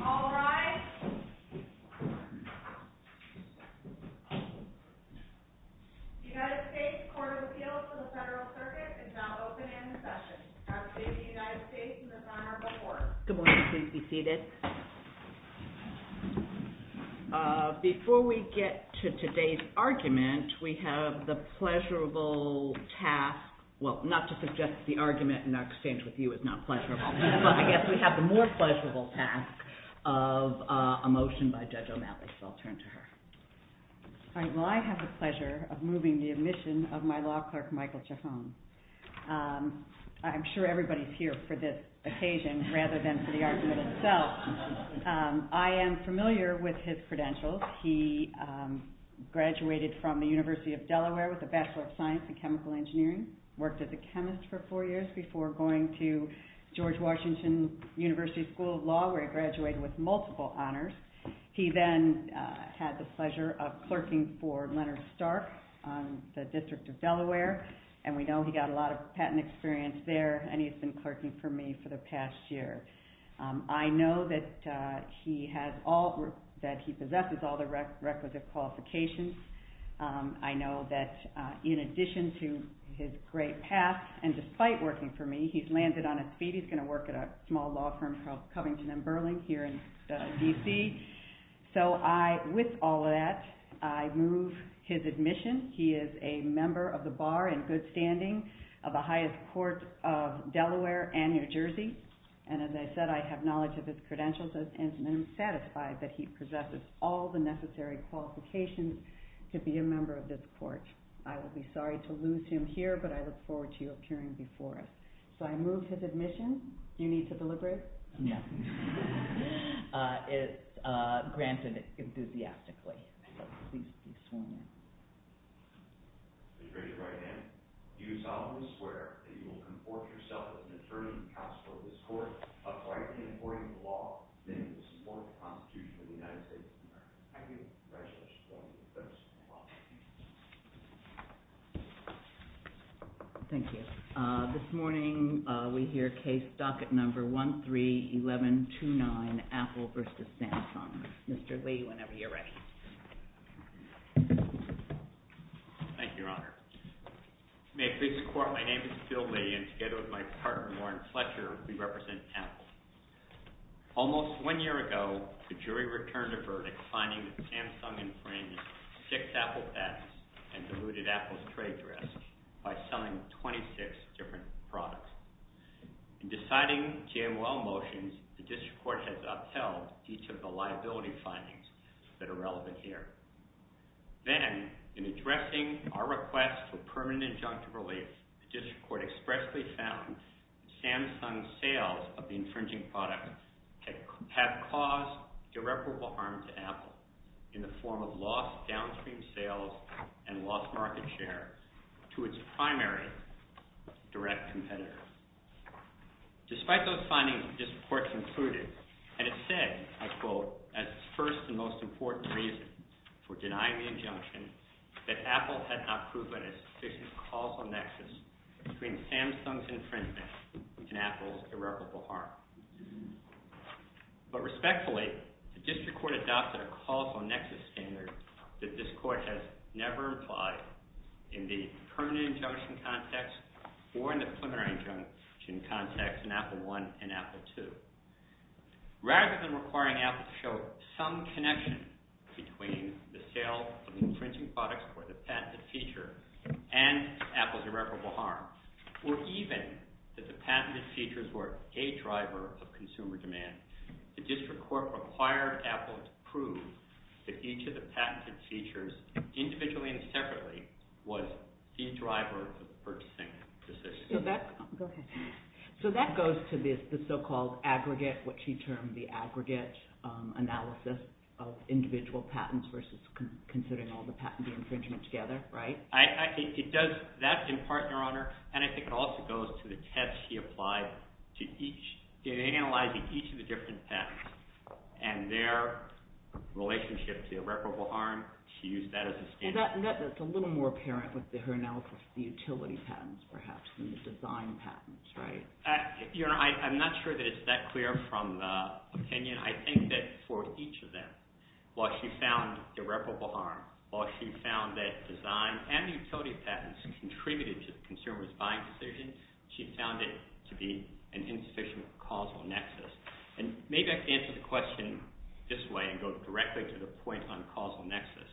All rise. The United States Court of Appeals for the Federal Circuit is now open and in session. I present to you the United States as a former court. Good morning. Please be seated. Before we get to today's argument, we have the pleasurable task, well, not to suggest that, but I guess we have the more pleasurable task of a motion by Judge O'Malley, so I'll turn to her. All right. Well, I have the pleasure of moving the admission of my law clerk, Michael Chafone. I'm sure everybody's here for this occasion rather than for the argument itself. I am familiar with his credentials. He graduated from the University of Delaware with a Bachelor of Science in Chemical Engineering, worked as a chemist for four years before going to George Washington University School of Law, where I graduated with multiple honors. He then had the pleasure of clerking for Leonard Stark on the District of Delaware, and we know he got a lot of patent experience there, and he's been clerking for me for the past year. I know that he possesses all the requisite qualifications. I know that in addition to his great past, and despite working for me, he's landed on his feet. He's going to work at a small law firm called Covington & Burling here in D.C. So with all of that, I move his admission. He is a member of the bar in good standing of the highest court of Delaware and New Jersey, and as I said, I have knowledge of his credentials and am satisfied that he possesses all the necessary qualifications to be a member of this court. I will be sorry to lose him here, but I look forward to you appearing before us. So I move his admission. Do you need to deliberate? No. It's granted enthusiastically. Thank you. Please be seated. Your Honor, do you solemnly swear that you will conform yourself to the determinant's counsel in this court, and by the authority of the law, submit it to the support of the Constitution of the United States of America? I do. Congratulations. Thank you. Thank you. This morning, we hear case docket number 131129, Apple vs. Santa Clara. Mr. Lee, whenever you're ready. Thank you, Your Honor. May it please the court, my name is Phil Lillian, and together with my partner, Warren Fletcher, we represent Apple. Almost one year ago, the jury returned a verdict finding that Sam Summings framed six Apple bets and diluted Apple's trade risks by selling 26 different products. In deciding the JOL motions, the district court has upheld each of the liability findings that are relevant here. Then, in addressing our request for permanent judgment relief, the district court expressly found Sam Summings' sales of the infringing product have caused irreparable harm to Apple in the form of lost downstream sales and lost market share to its primary direct competitors. Despite those findings, the district court concluded, and it said, I quote, as the first and most important reason for denying the injunction, that Apple had not proved a sufficient causal nexus between Sam Summings' infringement and Apple's irreparable harm. But respectfully, the district court adopted a causal nexus standard that this court has never applied in the permanent injunction context or in the preliminary injunction context in Apple I and Apple II. Rather than requiring Apple to show some connection between the sale of the infringing products or the patented feature and Apple's irreparable harm, or even that the patented features were a driver of consumer demand, the district court required Apple to prove that each of the patents she was doing separately was a driver of purchasing. So that goes to the so-called aggregate, what she termed the aggregate analysis of individual patents versus considering all the patented infringements together, right? I think it does. That's in part, Your Honor. And I think it also goes to the test she applied to each. In analyzing each of the different patents and their relationship to irreparable harm, she used that as a standard. That's a little more apparent with her analysis of the utility patents, perhaps, than the design patents, right? Your Honor, I'm not sure that it's that clear from opinion. I think that for each of them, while she found irreparable harm, while she found that design and utility patents contributed to the consumer's buying decision, she found it to be an insufficient causal nexus. And maybe I can answer the question this way and go directly to the point on causal nexus.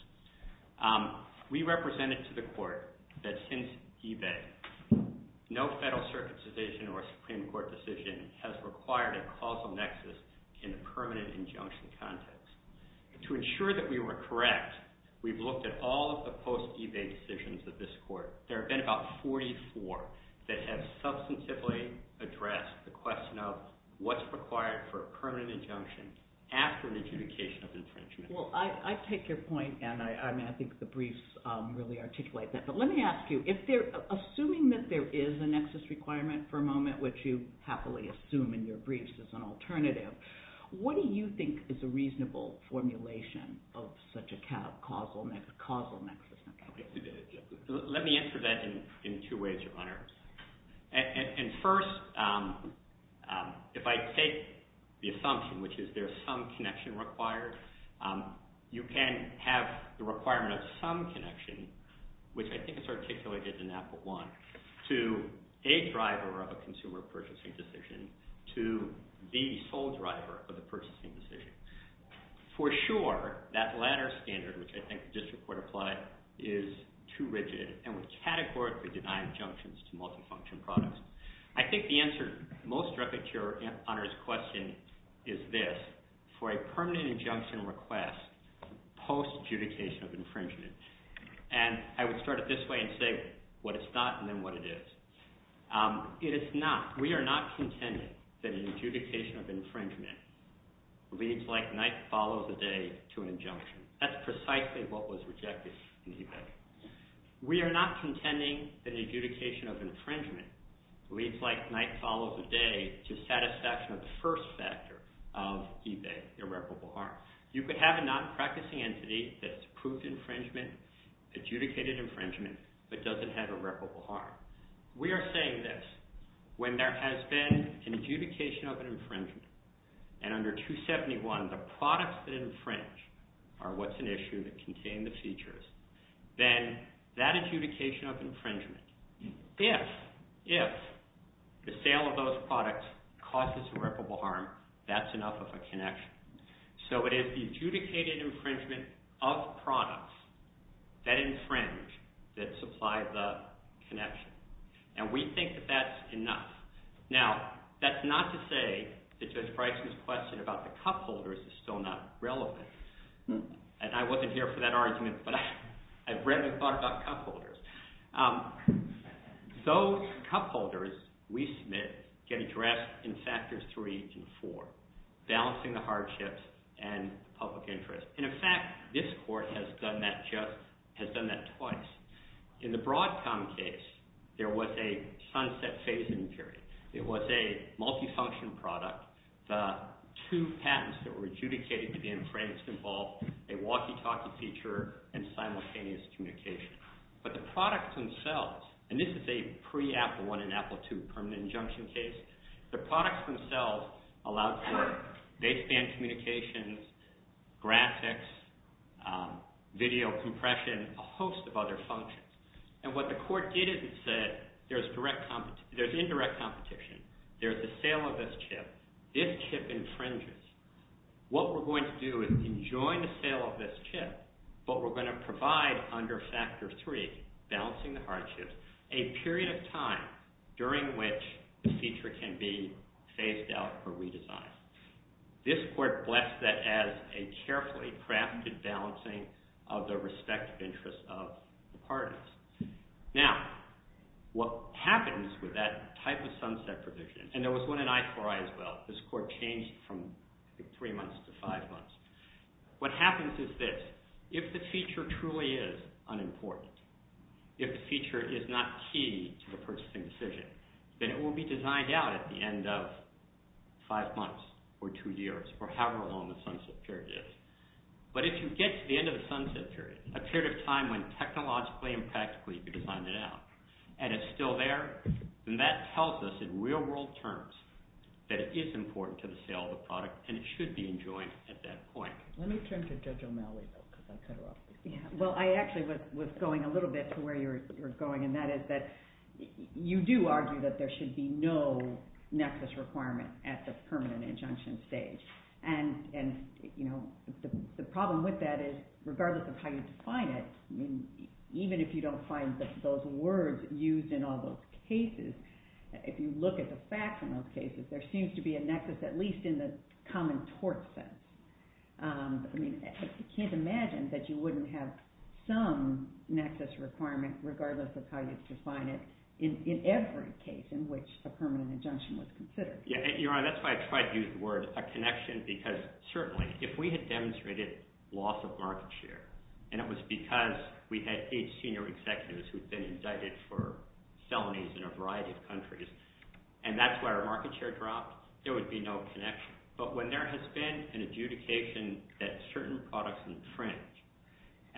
We represented to the court that since eBay, no federal certification or Supreme Court decision has required a causal nexus in a permanent injunction context. To ensure that we were correct, we've looked at all of the post-eBay decisions of this court. There have been about 44 that have substantively addressed the question of what's required for a permanent injunction after the adjudication of infringement. Well, I take your point, and I think the briefs really articulate that. But let me ask you, assuming that there is a nexus requirement for a moment, which you happily assume in your briefs as an alternative, what do you think is a reasonable formulation of such a causal nexus? Let me answer that in two ways, your Honor. And first, if I take the assumption, which is there's some connection required, you can have the requirement of some connection, which I think is articulated in Apple I, to a driver of a consumer purchasing decision to the sole driver of the purchasing decision. For sure, that latter standard, which I think the District Court applied, is too rigid, and would categorically deny injunctions to multifunction products. I think the answer most directly to your Honor's question is this, for a permanent injunction request post-adjudication of infringement. And I would start it this way and say what it's not and then what it is. It is not. We are not contending that an adjudication of infringement leads like night follows a day to an injunction. That's precisely what was rejected in eBay. We are not contending that an adjudication of infringement leads like night follows a day to satisfaction of the first factor of eBay, irreparable harm. You could have a non-practicing entity that's proved infringement, adjudicated infringement, but doesn't have irreparable harm. We are saying this, when there has been adjudication of infringement, and under 271, the products that infringe are what's an issue that contain the features, then that adjudication of infringement, if the sale of those products causes irreparable harm, that's enough of a connection. So it is the adjudicated infringement of products that infringe that supplies the connection. And we think that that's enough. Now, that's not to say that Jeff Brice's question about the cupholders is still not relevant. And I wasn't here for that argument, but I've read and thought about cupholders. Those cupholders, we submit, get addressed in factors three and four, balancing the hardships and public interest. And in fact, this court has done that twice. In the Broadcom case, there was a sunset phasing period. It was a multi-function product. The two patents that were adjudicated to be infringed involved a walkie-talkie feature and simultaneous communication. But the products themselves, and this is a pre-Apple I and Apple II permanent injunction case, the products themselves allowed for baseband communications, graphics, video compression, a host of other functions. And what the court did is it said there's indirect competition. There's the sale of this chip. This chip infringes. What we're going to do is, in joining the sale of this chip, what we're going to provide under factor three, balancing the hardships, a period of time during which the feature can be phased out or redesigned. This court blessed that as a carefully crafted balancing of the respective interests of the partners. Now, what happens with that type of sunset provision, and there was one in I4I as well, this court changed from three months to five months. What happens is this. If the feature truly is unimportant, if the feature is not key to the person's decision, then it will be designed out at the end of five months or two years, or however long the sunset period is. But if you get to the end of the sunset period, a period of time when technologically and practically you can find it out, and it's still there, then that tells us in real-world terms that it is important to the sale of the product, and it should be enjoyed at that point. Let me turn to Judge O'Malley. Well, I actually was going a little bit to where you were going, and that is that you do argue that there should be no nexus requirement at the permanent injunction stage. And the problem with that is, regardless of how you define it, even if you don't find those words used in all those cases, if you look at the facts in those cases, there seems to be a nexus, at least in the common tort sense. I mean, I can't imagine that you wouldn't have some nexus requirement, regardless of how you define it, in every case in which a permanent injunction was considered. Your Honor, that's why I tried to use the word, a connection, because certainly if we had demonstrated loss of market share, and it was because we had eight senior executives who had been indicted for felonies in a variety of countries, and that's why our market share dropped, there would be no connection. But when there has been an adjudication that certain products in French,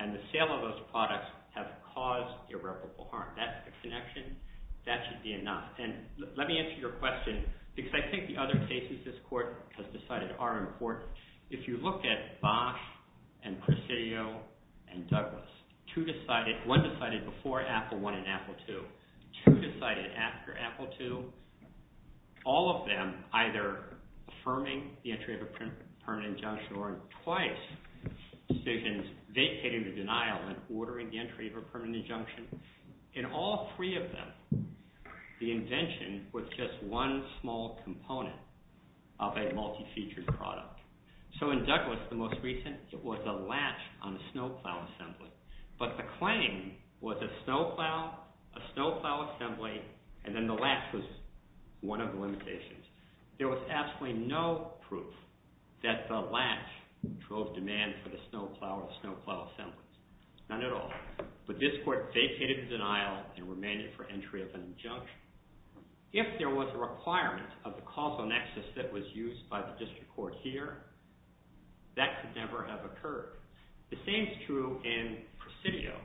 and the sale of those products have caused irreparable harm, that's the connection, that should be enough. And let me answer your question, because I think the other cases this Court has decided are important. If you look at Bosch and Presidio and Douglas, one decided before Apple I and Apple II, two decided after Apple II, all of them either affirming the entry of a permanent injunction, or twice decisions vacating the denial and ordering the entry of a permanent injunction. In all three of them, the invention was just one small component of a multi-featured product. So in Douglas, the most recent, it was a latch on the snow plow assembly. But the claim was a snow plow, a snow plow assembly, and then the latch was one of the limitations. There was absolutely no proof that the latch drove demand for the snow plow or snow plow assembly. None at all. But this Court vacated the denial and remained it for entry of an injunction. If there was a requirement of the causal nexus that was used by the District Court here, that could never have occurred. The same is true in Presidio.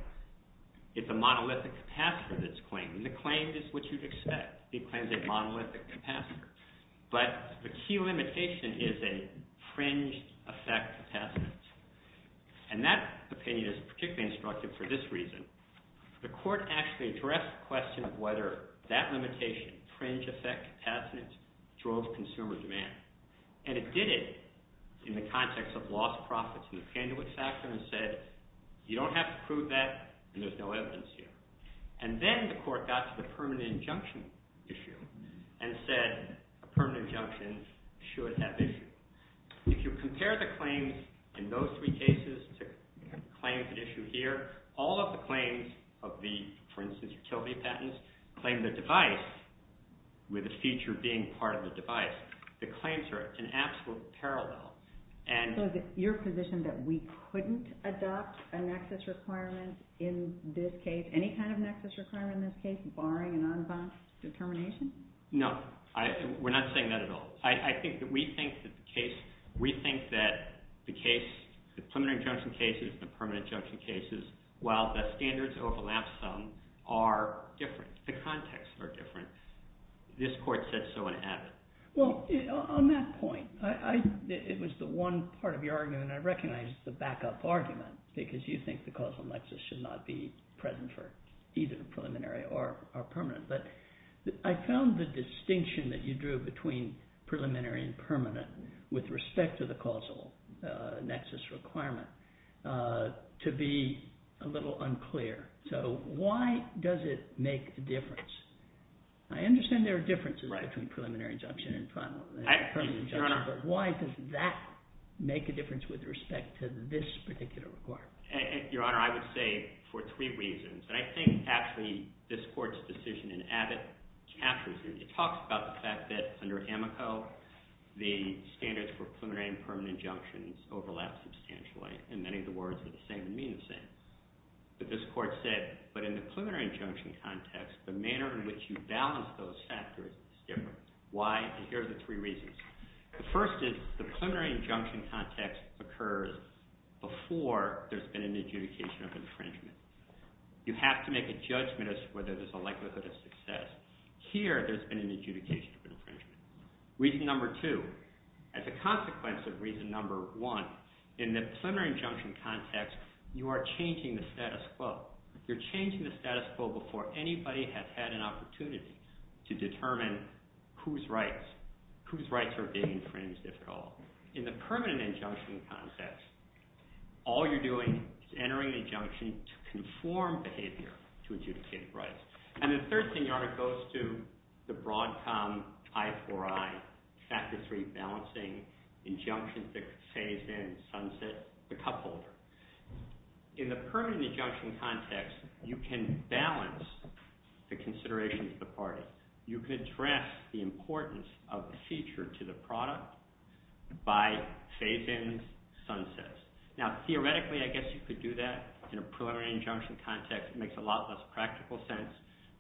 It's a monolithic capacitor, this claim. The claim is what you'd expect. It claims a monolithic capacitor. But the key limitation is a fringed effect capacitor. And that opinion is particularly instructive for this reason. The Court actually addressed the question of whether that limitation, fringed effect capacitor, drove consumer demand. And it did it in the context of lost profits in the candidate factor and said, you don't have to prove that. There's no evidence here. And then the Court got to the permanent injunction issue and said, permanent injunction should have issued. If you compare the claims in those three cases to claims issued here, all of the claims of the, for instance, Kilby patents, claim the device with a feature being part of the device, the claims are in absolute parallel. So is it your position that we couldn't adopt a nexus requirement in this case, any kind of nexus requirement in this case, barring an unadopted determination? No. We're not saying that at all. I think that we think that the case, we think that the case, the preliminary injunction cases, the permanent injunction cases, while the standards overlap some, are different. The contexts are different. This Court said so and added. Well, on that point, it was the one part of your argument, and I recognize the backup argument, because you think the causal nexus should not be present for either preliminary or permanent. But I found the distinction that you drew between preliminary and permanent with respect to the causal nexus requirement to be a little unclear. So why does it make a difference? I understand there are differences between preliminary injunction and permanent injunction, but why does that make a difference with respect to this particular requirement? Your Honor, I would say for three reasons, and I think actually this Court's decision in Abbott captures it. It talks about the fact that under Amico, the standards for preliminary and permanent injunctions overlap substantially, and many of the words are the same and mean the same. But this Court said, but in the preliminary injunction context, the manner in which you balance those factors is different. Why? Here are the three reasons. The first is, the preliminary injunction context occurs before there's been an adjudication of infringement. You have to make a judgment as to whether there's a likelihood of success. Here, there's been an adjudication of infringement. Reason number two, as a consequence of reason number one, in the preliminary injunction context, you are changing the status quo. You're changing the status quo before anybody has had an opportunity to determine whose rights are being infringed, if at all. In the permanent injunction context, all you're doing is entering an injunction to conform behavior to adjudicated rights. And the third thing goes to the Broadcom I-IV-I factors for rebalancing injunctions, the phase-in, sunset, the couple. In the permanent injunction context, you can balance the considerations of the parties. You can address the importance of the feature to the product by phase-ins, sunsets. Now, theoretically, I guess you could do that. In a preliminary injunction context, it makes a lot less practical sense.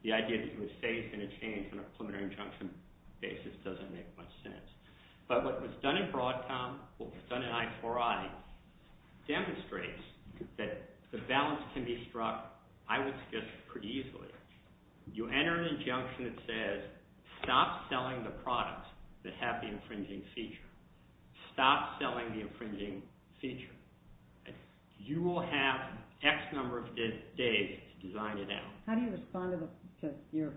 The idea that you would phase in a change on a preliminary injunction basis doesn't make much sense. But what was done in Broadcom, what was done in I-IV-I, demonstrates that the balance can be struck, I would suggest, pretty easily. You enter an injunction that says, stop selling the products that have the infringing feature. Stop selling the infringing feature. You will have X number of days to design it out. How do you respond to your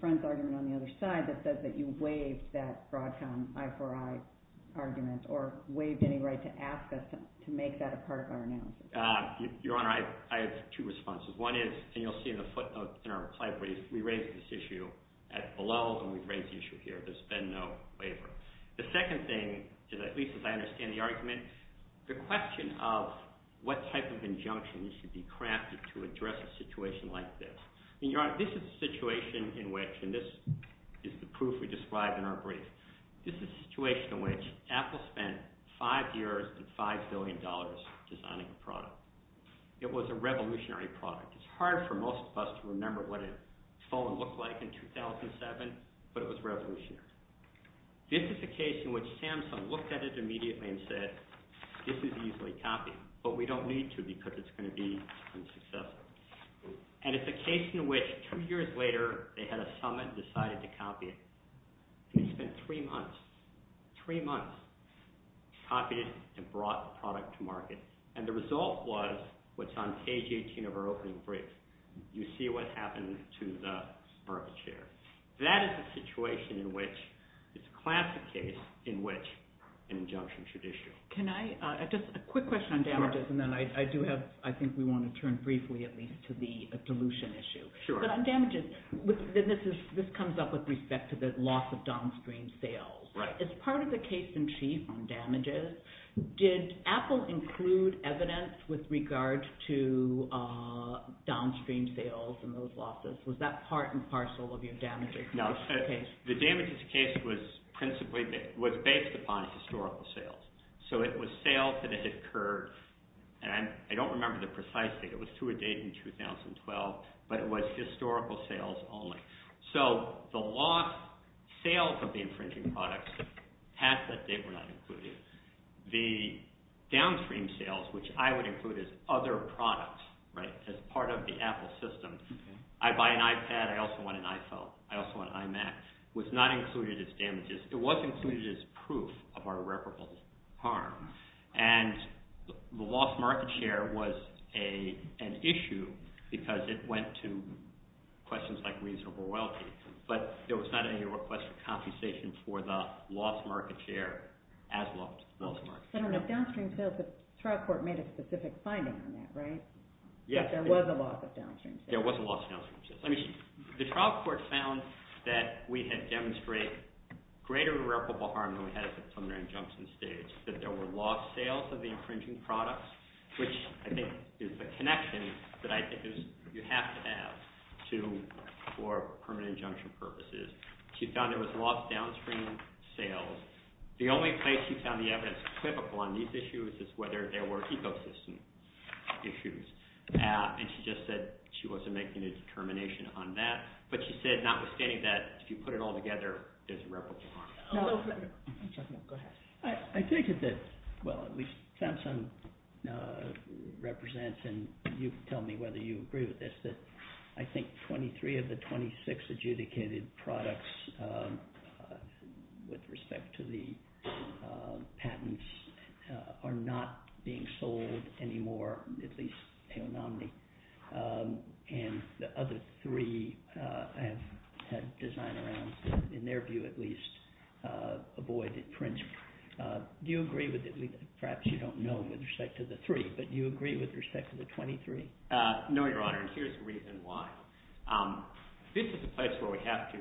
friend's argument on the other side that says that you waived that Broadcom I-IV-I argument or waived any right to access them, to make that a part of our analysis? Your Honor, I have two responses. One is, and you'll see in the footnote in our client brief, we raised this issue at below, and we've raised the issue here. There's been no waiver. The second thing is, at least if I understand the argument, the question of what type of injunction should be crafted to address a situation like this. Your Honor, this is a situation in which, and this is the proof we described in our brief, this is a situation in which Apple spent five years and five billion dollars designing a product. It was a revolutionary product. It's hard for most of us to remember what a phone looked like in 2007, but it was revolutionary. This is a case in which Samsung looked at it immediately and said, this is easily copied, but we don't need to because it's going to be unsuccessful. And it's a case in which two years later, they had a summit and decided to copy it. They spent three months, three months copying and brought the product to market. And the result was what's on page 18 of our opening brief. You see what happened to the marble chair. That is a situation in which, it's a classic case in which an injunction should issue. Can I, just a quick question on damages, and then I do have, I think we want to turn briefly at least to the dilution issue. But on damages, this comes up with respect to the loss of downstream sales. As part of the case in chief on damages, did Apple include evidence with regard to downstream sales and those losses? Was that part and parcel of your damages case? The damages case was principally, was based upon historical sales. So it was sales that had occurred, and I don't remember the precise date, it was to a date in 2012, but it was historical sales only. So the loss, sales of the infringing products, half of it they were not included. The downstream sales, which I would include as other products, as part of the Apple system. I buy an iPad, I also want an iPhone, I also want an iMac. It was not included as damages, it was included as proof of irreparable harm. And the lost market share was an issue, because it went to questions like reasonable royalty. But there was not any request for compensation for the lost market share, as well as the lost market share. I don't know if downstream sales, but trial court made a specific finding on that, right? Yes. There was a loss of downstream sales. There was a loss of downstream sales. The trial court found that we had demonstrated greater irreparable harm than we had at the preliminary injunction stage, that there were lost sales of the infringing products, which I think is a connection that I think you have to have for permanent injunction purposes. She found there was lost downstream sales. The only case she found yet that's typical on these issues is whether there were ecosystem issues. And she just said she wasn't making a determination on that. But she said, notwithstanding that, if you put it all together, it is irreparable harm. I take it that, well, Samsung represents, and you can tell me whether you agree with this, that I think 23 of the 26 adjudicated products with respect to the patents are not being sold anymore, at least anonymously. And the other three have designed around, in their view at least, avoid infringement. Do you agree with it? Perhaps you don't know with respect to the three, but do you agree with respect to the 23? No, Your Honor, and here's the reason why. This is a place where we have to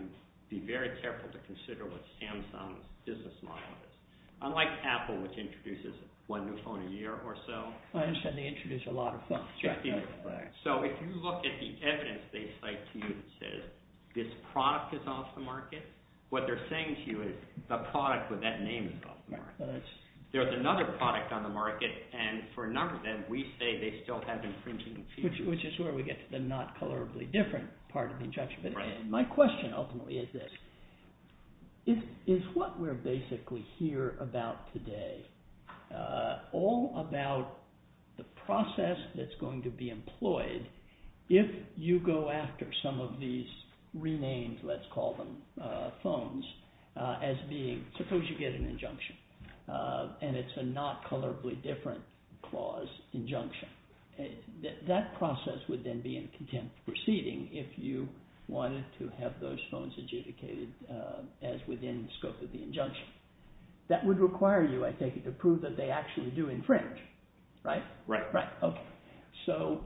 be very careful to consider what Samsung's business model is. Unlike Apple, which introduces one new phone a year or so. I understand they introduce a lot of phones. So if you look at the evidence they cite to you, this product is off the market. What they're saying to you is, the product with that name is off the market. There's another product on the market, and for a number of them, we say they still have infringement. Which is where we get to the not colorably different part of the judgment. My question ultimately is this. Is what we're basically here about today all about the process that's going to be employed if you go after some of these renamed, let's call them, phones as being, suppose you get an injunction. And it's a not colorably different clause injunction. That process would then be in contempt of proceeding if you wanted to have those phones adjudicated as within the scope of the injunction. That would require you, I think, to prove that they actually do infringe. Right? Right. So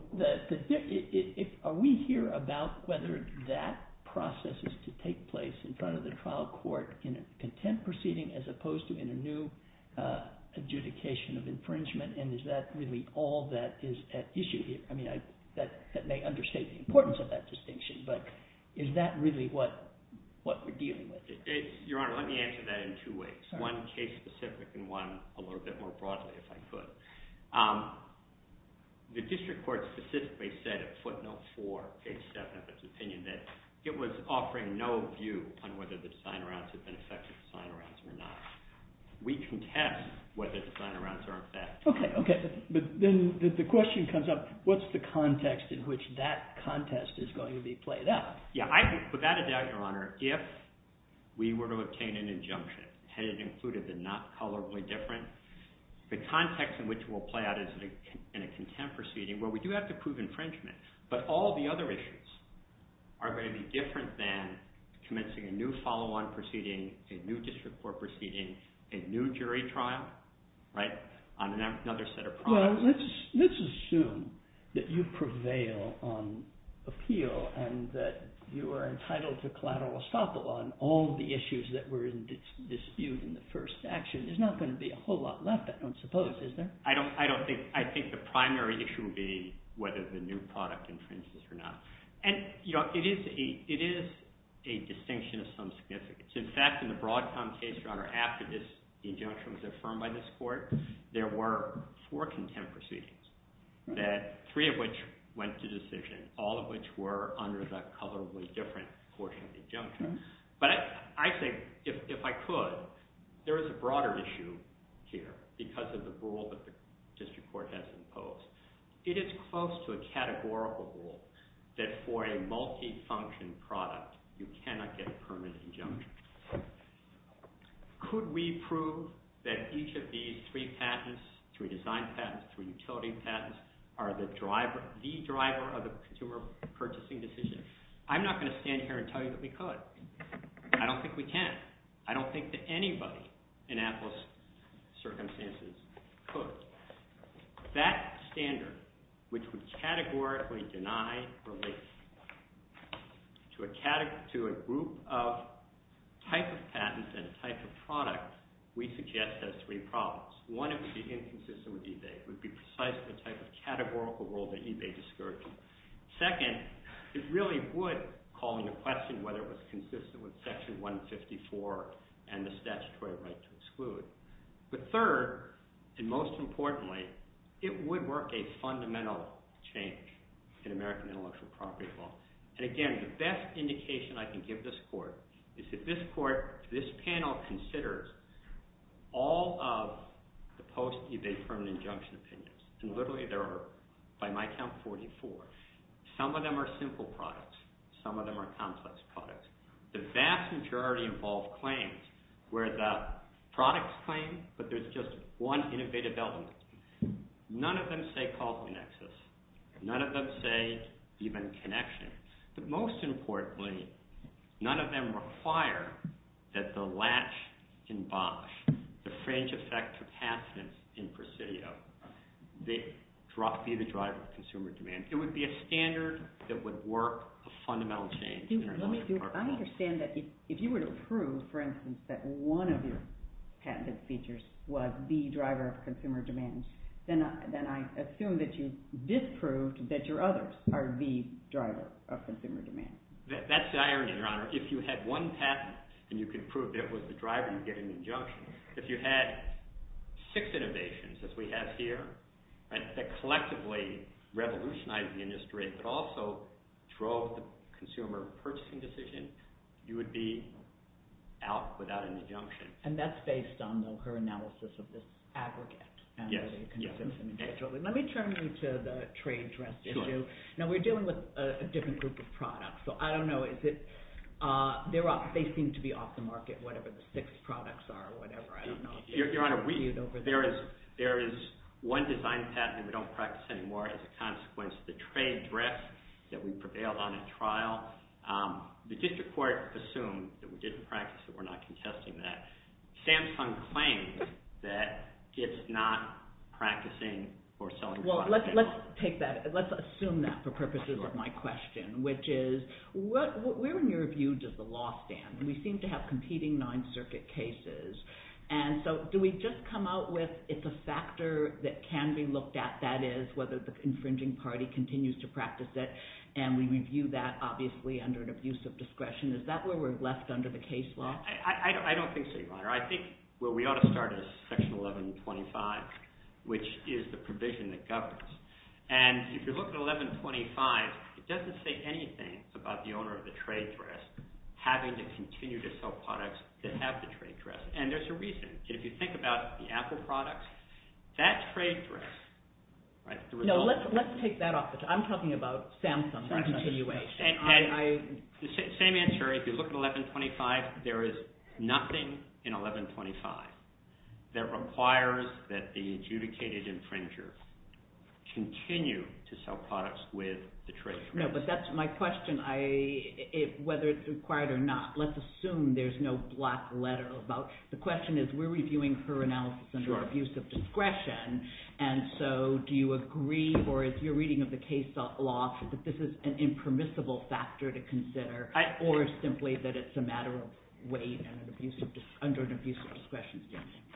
are we here about whether that process is to take place in front of the trial court in a contempt proceeding as opposed to in a new adjudication of infringement? And is that really all that is at issue here? I mean, that may understate the importance of that distinction. But is that really what we're dealing with? Your Honor, let me answer that in two ways. One case-specific and one a little bit more broadly, if I could. The district court specifically said in footnote 4, page 7 of its opinion that it was offering no view on whether the sign-arounds had been effective sign-arounds or not. We can test whether the sign-arounds are effective. Okay. Okay. But then the question comes up, what's the context in which that contest is going to be played out? Without a doubt, Your Honor, if we were to obtain an injunction, had it included the not colorably different, the context in which it will play out in a contempt proceeding, where we do have to prove infringement, but all the other issues are going to be different than commencing a new follow-on proceeding, a new district court proceeding, a new jury trial, right? On another set of problems. Well, let's assume that you prevail on appeal and that you are entitled to collateral estoppel on all the issues that were in dispute in the first statute. There's not going to be a whole lot left, I don't suppose, is there? I don't think... I think the primary issue would be whether the new product infringes or not. And, you know, it is a distinction of some significance. In fact, in the Broadcom case, rather, after this injunction was affirmed by this court, there were four contempt proceedings, three of which went to decision, all of which were under the colorably different portion of the injunction. But I think, if I could, there is a broader issue here, because of the rule that the district court has imposed. It is close to a categorical rule that for a multi-function product, you cannot get a permanent injunction. Could we prove that each of these three patents, three design patents, three utility patents, are the driver, the driver of a consumer purchasing decision? I'm not going to stand here and tell you that we could. I don't think we can. I don't think that anybody in Atlas circumstances could. That standard, which we categorically deny, relates to a group of type of patent and type of product, we suggest has three problems. One, it would be inconsistent with eBay. It would be precisely the type of categorical rule that eBay discourages. Second, it really would call into question whether it was consistent with Section 154 and the statutory right to exclude. But third, and most importantly, it would work a fundamental change in American intellectual property law. And again, the best indication I can give this court is that this panel considers all of the post-eBay permanent injunction patents. And literally there are, by my count, 44. Some of them are simple products. Some of them are complex products. The vast majority involve claims where the products claim, but there's just one innovative element. None of them say cost and access. None of them say even connection. But most importantly, none of them require that the latch in box, the fringe effect to patent in Presidio, be the driver of consumer demand. It would be a standard that would work a fundamental change. I understand that if you were to prove, for instance, that one of your patented features was the driver of consumer demand, then I assume that you disprove that your others are the driver of consumer demand. That's the irony, Your Honor. If you had one patent and you could prove it was the driver, you'd get an injunction. If you had six innovations, as we have here, that collectively revolutionized the industry, but also drove the consumer purchasing decision, you would be out without an injunction. And that's based on her analysis of the aggregate. Yes. Let me turn you to the trade trust issue. Now, we're dealing with a different group of products, so I don't know if they seem to be off the market, whatever the six products are or whatever. I don't know. Your Honor, there is one design patent we don't practice anymore. It's a consequence of the trade dress that we prevailed on at trial. The district court assumed that we didn't practice it. We're not contesting that. It stems from the claim that it's not practicing or selling products. Well, let's take that. Let's assume that for purposes of my question, which is, where in your view does the law stand? We seem to have competing Ninth Circuit cases. And so do we just come out with it's a factor that can be looked at, that is, whether the infringing party continues to practice it, and we review that, obviously, under an abuse of discretion? Is that where we're left under the case law? I don't think so, Your Honor. I think where we ought to start is Section 1125, which is the provision that governs. And if you look at 1125, it doesn't say anything about the owner of the trade dress having to continue to sell products that have the trade dress. And there's a reason. If you think about the Apple products, that's trade dress. No, let's take that off. I'm talking about Samsung continuation. Same answer. If you look at 1125, there is nothing in 1125 that requires that the adjudicated infringer continue to sell products with the trade dress. No, but that's my question. Whether it's required or not, let's assume there's no black letter about it. The question is, we're reviewing her analysis under abuse of discretion. And so do you agree, or if you're reading of the case law, that this is an impermissible factor to consider, or simply that it's a matter of weight under an abuse of discretion?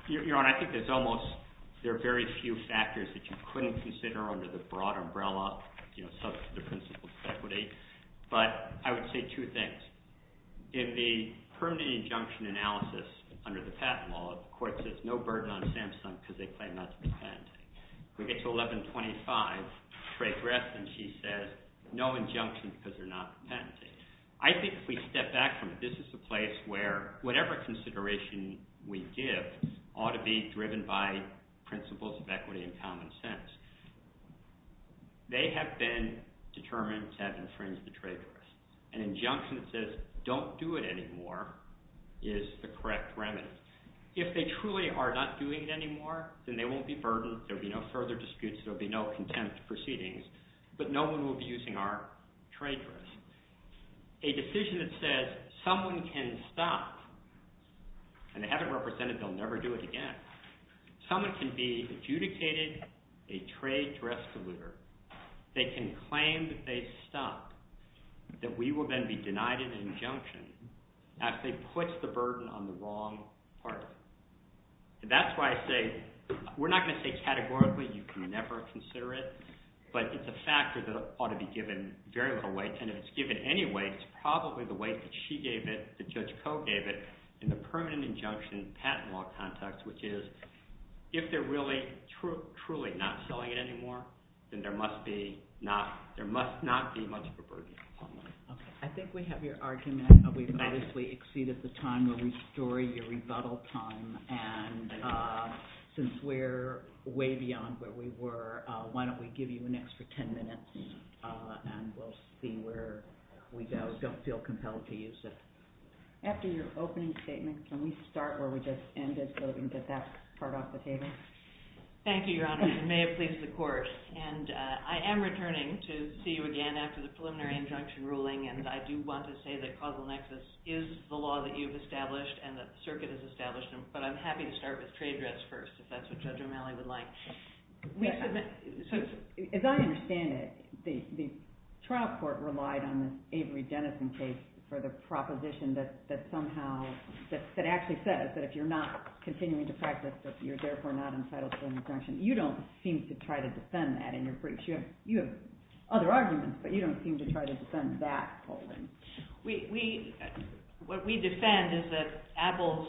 Your Honor, I think there are very few factors that you couldn't consider under the broad umbrella such as the principle of equity. But I would say two things. In the permanent injunction analysis under the patent law, the court says no burden on Samsung because they claim not to defend. We get to 1125, trade dress, and she says, no injunction because they're not defending. I think if we step back from it, this is a place where whatever consideration we give ought to be driven by principles of equity and common sense. They have been determined to have infringed the trade dress. An injunction that says don't do it anymore is the correct remedy. If they truly are not doing it anymore, then they won't be burdened, there'll be no further disputes, there'll be no contempt proceedings, but no one will be abusing our trade dress. A decision that says someone can stop, and they have it represented, they'll never do it again. Someone can be adjudicated a trade dress deliverer. They can claim that they stopped, that we will then be denied an injunction as it puts the burden on the wrong party. That's why I say we're not going to say categorically you can never consider it, but it's a factor that ought to be given variable weight, and if it's given any weight, it's probably the weight that she gave it, the judge co-gave it, in the permanent injunction patent law context, which is if they're really truly not selling it anymore, then there must not be much of a burden on them. I think we have your argument that we've obviously exceeded the time where we storied your rebuttal time, and since we're way beyond where we were, why don't we give you an extra 10 minutes, and we'll see where we don't feel compelled to use it. After your opening statement, can we start where we just ended, so we can get that part off the table? Thank you, Your Honor. You may have pleased the court. And I am returning to see you again after the preliminary injunction ruling, and I do want to say that causal nexus is the law that you've established, and that the circuit has established them, but I'm happy to start with trade dress first, if that's what Judge O'Malley would like. As I understand it, the trial court relied on the Avery-Denison case for the proposition that somehow, that actually says that if you're not continuing to practice, that you're therefore not entitled to an infraction. You don't seem to try to defend that in your briefs. You have other arguments, but you don't seem to try to defend that. We... What we defend is that Apple's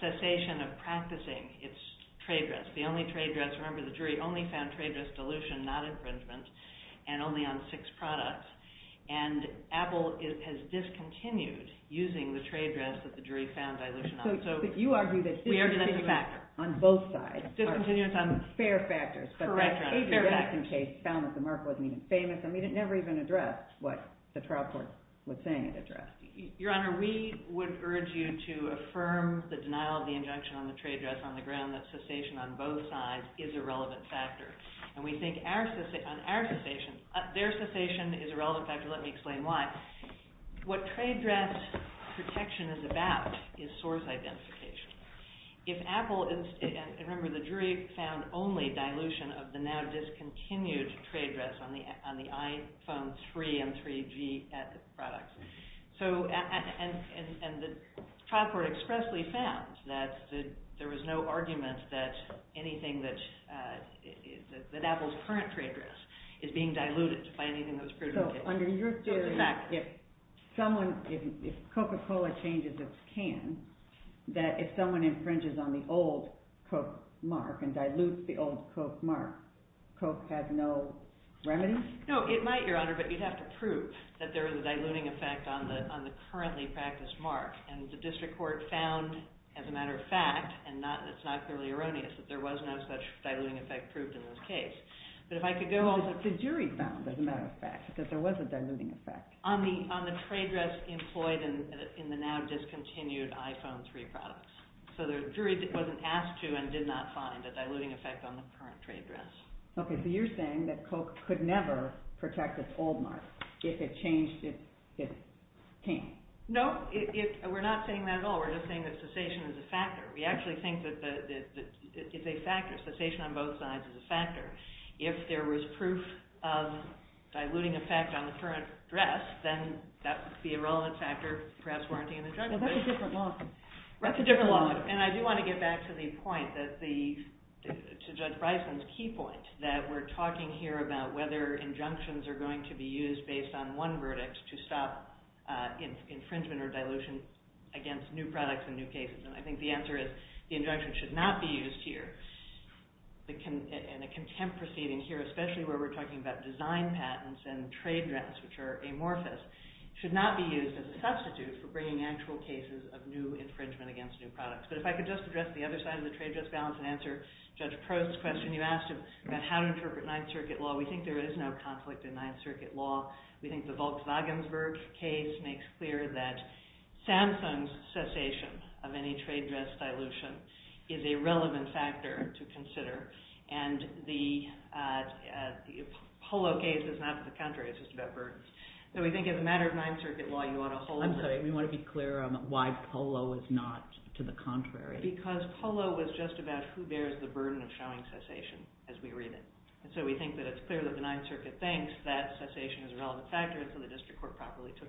cessation of practicing its trade dress, the only trade dress... Remember, the jury only found trade dress dilution, not infringement, and only on six products. And Apple has discontinued using the trade dress that the jury found dilution on. So you argue that... On both sides. Fair factors. I mean, it never even addressed what the trial court was saying it addressed. Your Honor, we would urge you to affirm the denial of the injunction on the trade dress on the ground that cessation on both sides is a relevant factor. And we think on our cessation, their cessation is a relevant factor. Let me explain why. What trade dress protection is about is source identification. If Apple... Remember, the jury found only dilution of the now-discontinued trade dress on the iPhone 3 and 3G products. So... And the trial court expressly found that there was no argument that anything that... that Apple's current trade dress is being diluted by anything that was proven... So under your theory... In fact, if someone... If Coca-Cola changes its can, that if someone infringes on the old Coke mark and dilutes the old Coke mark, Coke has no remedy? No, it might, Your Honor, but you'd have to prove that there was a diluting effect on the currently practiced mark. And the district court found, as a matter of fact, and it's not clearly erroneous, that there was no such diluting effect proved in this case. But if I could go on... But the jury found, as a matter of fact, that there was a diluting effect. On the trade dress employed in the now-discontinued iPhone 3 products. So the jury wasn't asked to and did not find a diluting effect on the current trade dress. Okay, so you're saying that Coke could never protect its old mark if it changed its can. No, we're not saying that at all. We're just saying that cessation is a factor. We actually think that it's a factor. Cessation on both sides is a factor. If there was proof of diluting effect on the current dress, then that would be a relevant factor perhaps warranting an injunction. That's a different law. That's a different law. And I do want to get back to the point to Judge Bryson's key point that we're talking here about whether injunctions are going to be used based on one verdict to stop infringement or dilution against new products in new cases. And I think the answer is the injunction should not be used here. And a contempt proceeding here, especially where we're talking about design patents and trade dress, which are amorphous, should not be used as a substitute for bringing actual cases of new infringement against new products. But if I could just address the other side of the trade dress balance and answer Judge Prost's question. You asked him how to interpret Ninth Circuit law. We think there is no conflict in Ninth Circuit law. We think the Vogt-Wagensberg case makes clear that Samsung's cessation of any trade dress dilution is a relevant factor to consider. And the Polo case is not to the contrary, it's just about burdens. So we think it's a matter of Ninth Circuit law you want to hold... I'm sorry, you want to be clear on why Polo is not to the contrary. Because Polo was just about who bears the burden of showing cessation as we read it. So we think that it's clear that the Ninth Circuit thinks that cessation is a relevant factor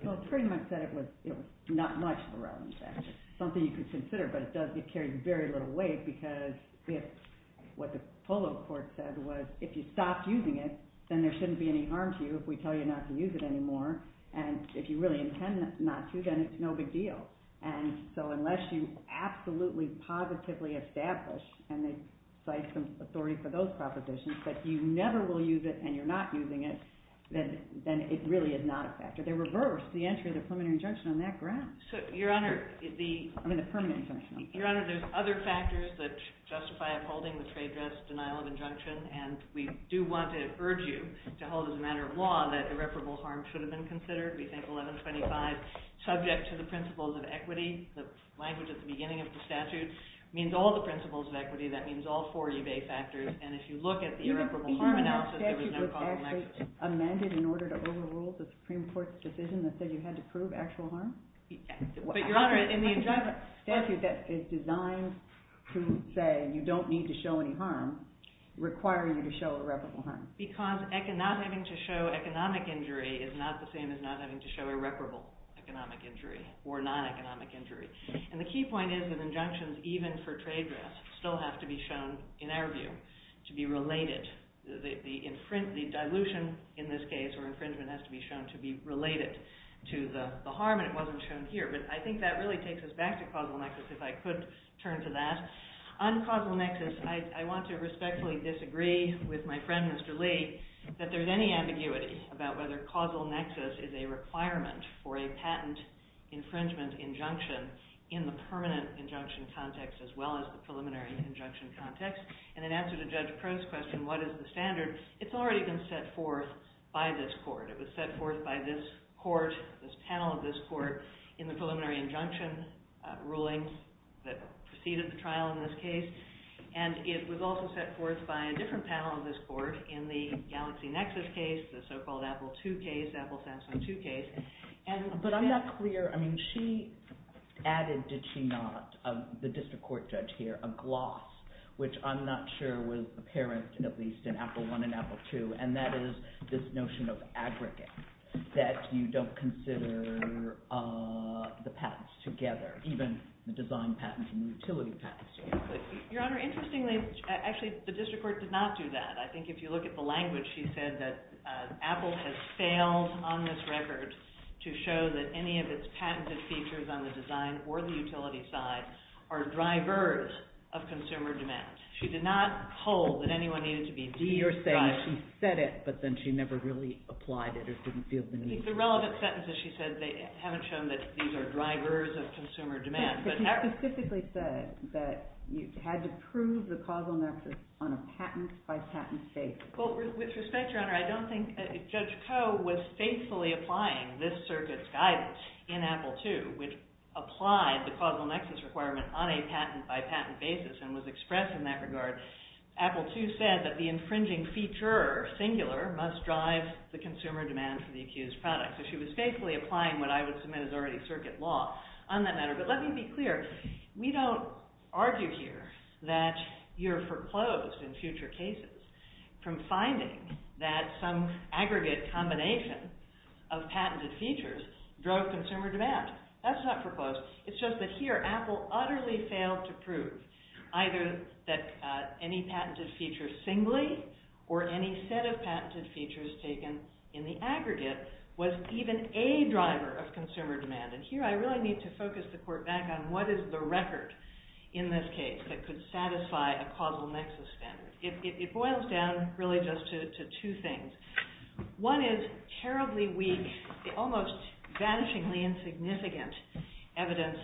Well, it pretty much said it was not much of a relevant factor. Something you could consider, but it does carry very little weight because what the Polo court said was if you stopped using it then there shouldn't be any harm to you if we tell you not to use it anymore and if you really intend not to then it's no big deal. So unless you absolutely, positively establish and they cite some authority for those propositions that you never will use it and you're not using it then it really is not a factor. They reversed the entry of the permanent injunction on that ground. Your Honor, there's other factors that justify upholding the trade dress denial of injunction and we do want to urge you to hold it as a matter of law that irreparable harm should have been considered. We think 1125, subject to the principles of equity the language at the beginning of the statute means all the principles of equity that means all 40 of A factors and if you look at the irreparable harm it was actually amended in order to overrule the Supreme Court's decision that said you had to prove actual harm and the injunction statute is designed to say you don't need to show any harm requiring you to show irreparable harm because not having to show economic injury is not the same as not having to show irreparable economic injury or non-economic injury and the key point is that injunctions even for trade dress still have to be shown in our view to be related the dilution in this case or infringement has to be shown to be related to the harm and it wasn't shown here but I think that really takes us back to causal nexus if I could turn to that on causal nexus I want to respectfully disagree with my friend Mr. Lee that there's any ambiguity about whether causal nexus is a requirement for a patent infringement injunction in the permanent injunction context as well as the preliminary injunction context and in answer to Judge Crow's question what is the standard, it's already been set forth by this court it was set forth by this panel of this court in the preliminary injunction ruling that preceded the trial in this case and it was also set forth by a different panel of this court in the Galaxy Nexus case the so-called Apple II case but I'm not clear she added, did she not the district court judge here added a gloss which I'm not sure was apparent at least in Apple I and Apple II and that is this notion of aggregate that you don't consider the patents together even the design patents and utility patents your honor, interestingly actually the district court did not do that I think if you look at the language she said that Apple has failed on this record to show that any of its patented features on the design or the utility side are drivers of consumer demand she did not hold that anyone needed to be denied she said it but then she never really applied it the relevant sentences she said they haven't shown that these are drivers of consumer demand she specifically said that you had to prove the causal nexus on a patent-by-patent basis with respect your honor I don't think that Judge Crow was faithfully applying this circuit's guidance in Apple II which applied the causal nexus requirement on a patent-by-patent basis and was expressed in that regard Apple II said that the infringing feature singular must drive the consumer demand for the accused product she was faithfully applying what I would submit as already circuit law but let me be clear we don't argue here that you're foreclosed in future cases from finding that some aggregate combination of patented features drove consumer demand that's not foreclosed it's just that here Apple utterly failed to prove either that any patented feature singly or any set of patented features taken in the aggregate was even a driver of consumer demand and here I really need to focus the court back on what is the record in this case that could satisfy a causal nexus standard it boils down really just to two things one is terribly weak almost vanishingly insignificant evidence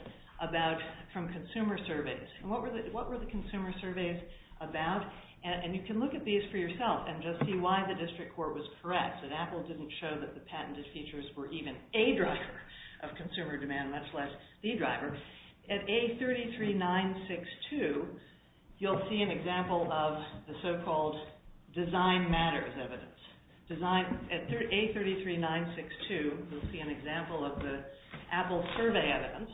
from consumer surveys what were the consumer surveys about and you can look at these for yourself and just see why the district court was correct that Apple didn't show that the patented features were even a driver of consumer demand, much less the driver at A33962 you'll see an example of the so-called design matters design at A33962 you'll see an example of the Apple survey evidence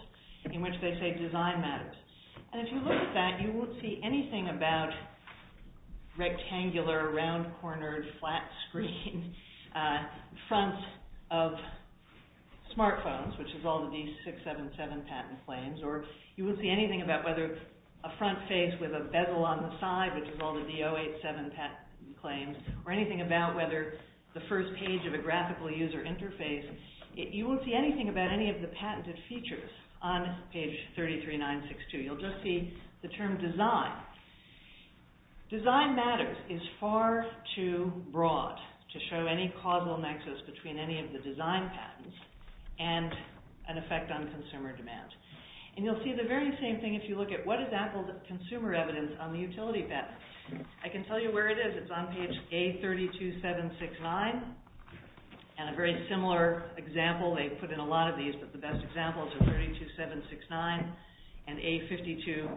in which they say design matters and if you look at that you won't see anything about rectangular round cornered flat screen front of smartphones which is all of these 677 patent claims or you won't see anything about whether a front face with a bezel on the side which is all of the 087 patent claims or anything about whether the first page of a graphical user interface you won't see anything about any of the patented features on page A33962, you'll just see the term design design matters is far too broad to show any causal nexus between any of the design patents and an effect on consumer demand and you'll see the very same thing if you look at what is Apple's consumer evidence on the utility benefits I can tell you where it is, it's on page A32769 and a very similar example, they put in a lot of these but the best example is A32769 and A52037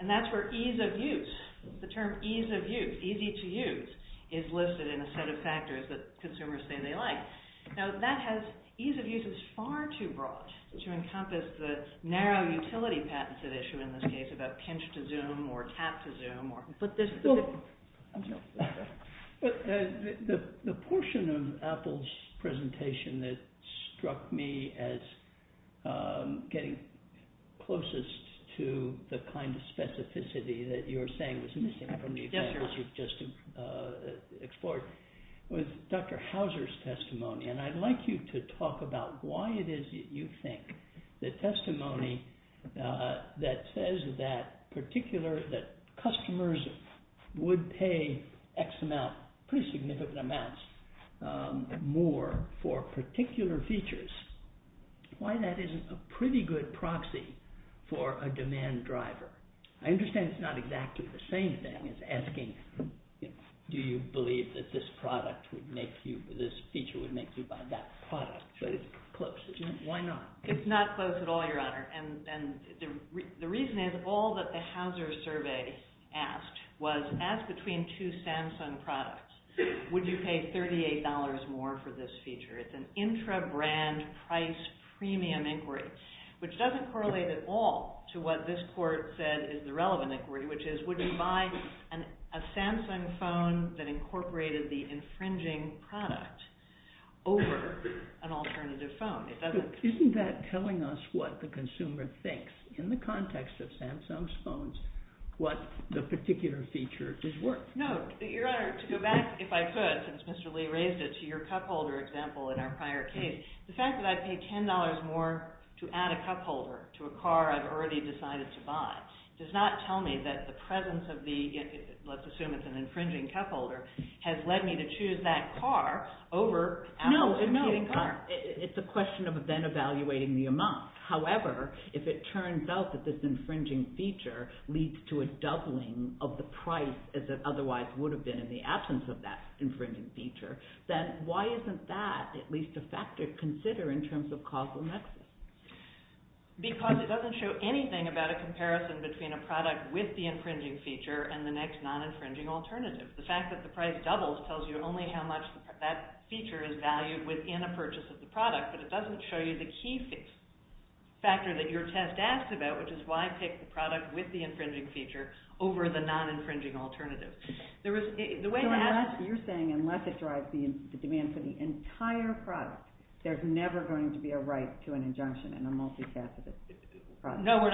and that's where ease of use, the term ease of use, easy to use is listed in a set of factors that consumers say they like now that has, ease of use is far too broad to encompass the narrow utility patented issue in this case I'm thinking about pinch to zoom or cat to zoom but there's still the portion of Apple's presentation that struck me as getting closest to the kind of specificity that you were saying was missing from the examples you've just explored was Dr. Hauser's testimony and I'd like you to talk about why it is that you think that testimony that says that customers would pay pretty significant amounts more for particular features why that isn't a pretty good proxy for a demand driver? I understand it's not exactly the same thing as asking do you believe that this product would make you this feature would make you buy that product but it's close, why not? It's not close at all your honor the reason is all that the Hauser survey asked was ask between two Samsung products would you pay $38 more for this feature it's an intra-brand price premium inquiry which doesn't correlate at all to what this court said is the relevant inquiry which is would you buy a Samsung phone that incorporated the infringing product over an alternative isn't that telling us what the consumer thinks in the context of Samsung's phones what the particular feature is worth no your honor to go back if I could since Mr. Lee raised it to your cupholder example in our prior case the fact that I pay $10 more to add a cupholder to a car I've already decided to buy does not tell me that the presence of the let's assume it's an infringing cupholder has led me to choose that car over it's a question of then evaluating the amount however if it turns out that this infringing feature leads to a doubling of the price as it otherwise would have been in the absence of that infringing feature then why isn't that at least a factor to consider in terms of causal nexus because it doesn't show anything about a comparison between a product with the infringing feature and the next non-infringing alternative the fact that the price doubles tells you only how much that feature is valued within a purchase of the product but it doesn't show you the key factor that your test asked about which is why I picked the product with the infringing feature over the non-infringing alternative the way that you're saying unless it drives the demand for the entire product there's never going to be a right to an injunction in a multi-faceted process no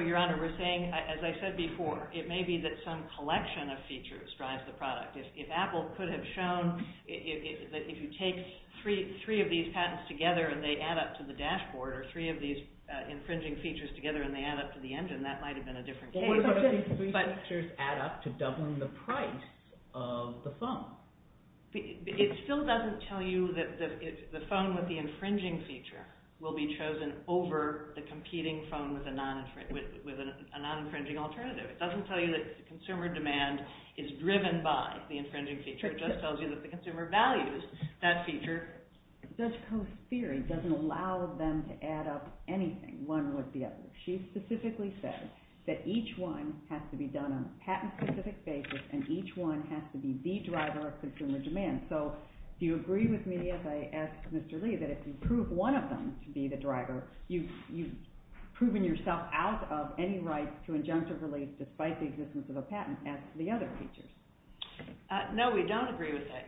your honor we're saying as I said before it may be that some collection of features drives the product if Apple could have shown if you take three of these patents together and they add up to the dashboard or three of these infringing features together and they add up to the engine that might have been a different case add up to double the price of the phone it still doesn't tell you that the phone with the infringing feature will be chosen over the competing phone with a non-infringing alternative it doesn't tell you that consumer demand is driven by the infringing feature it just tells you that the consumer values that feature Judge Coe's theory doesn't allow them to add up anything one with the other she specifically said that each one has to be done on a patent specific basis and each one has to be the driver of consumer demand so do you agree with me as I asked Mr. Lee that if you prove one of them to be the driver you've proven yourself out of any right to injunctive relief despite the existence of a patent and the other features no we don't agree with that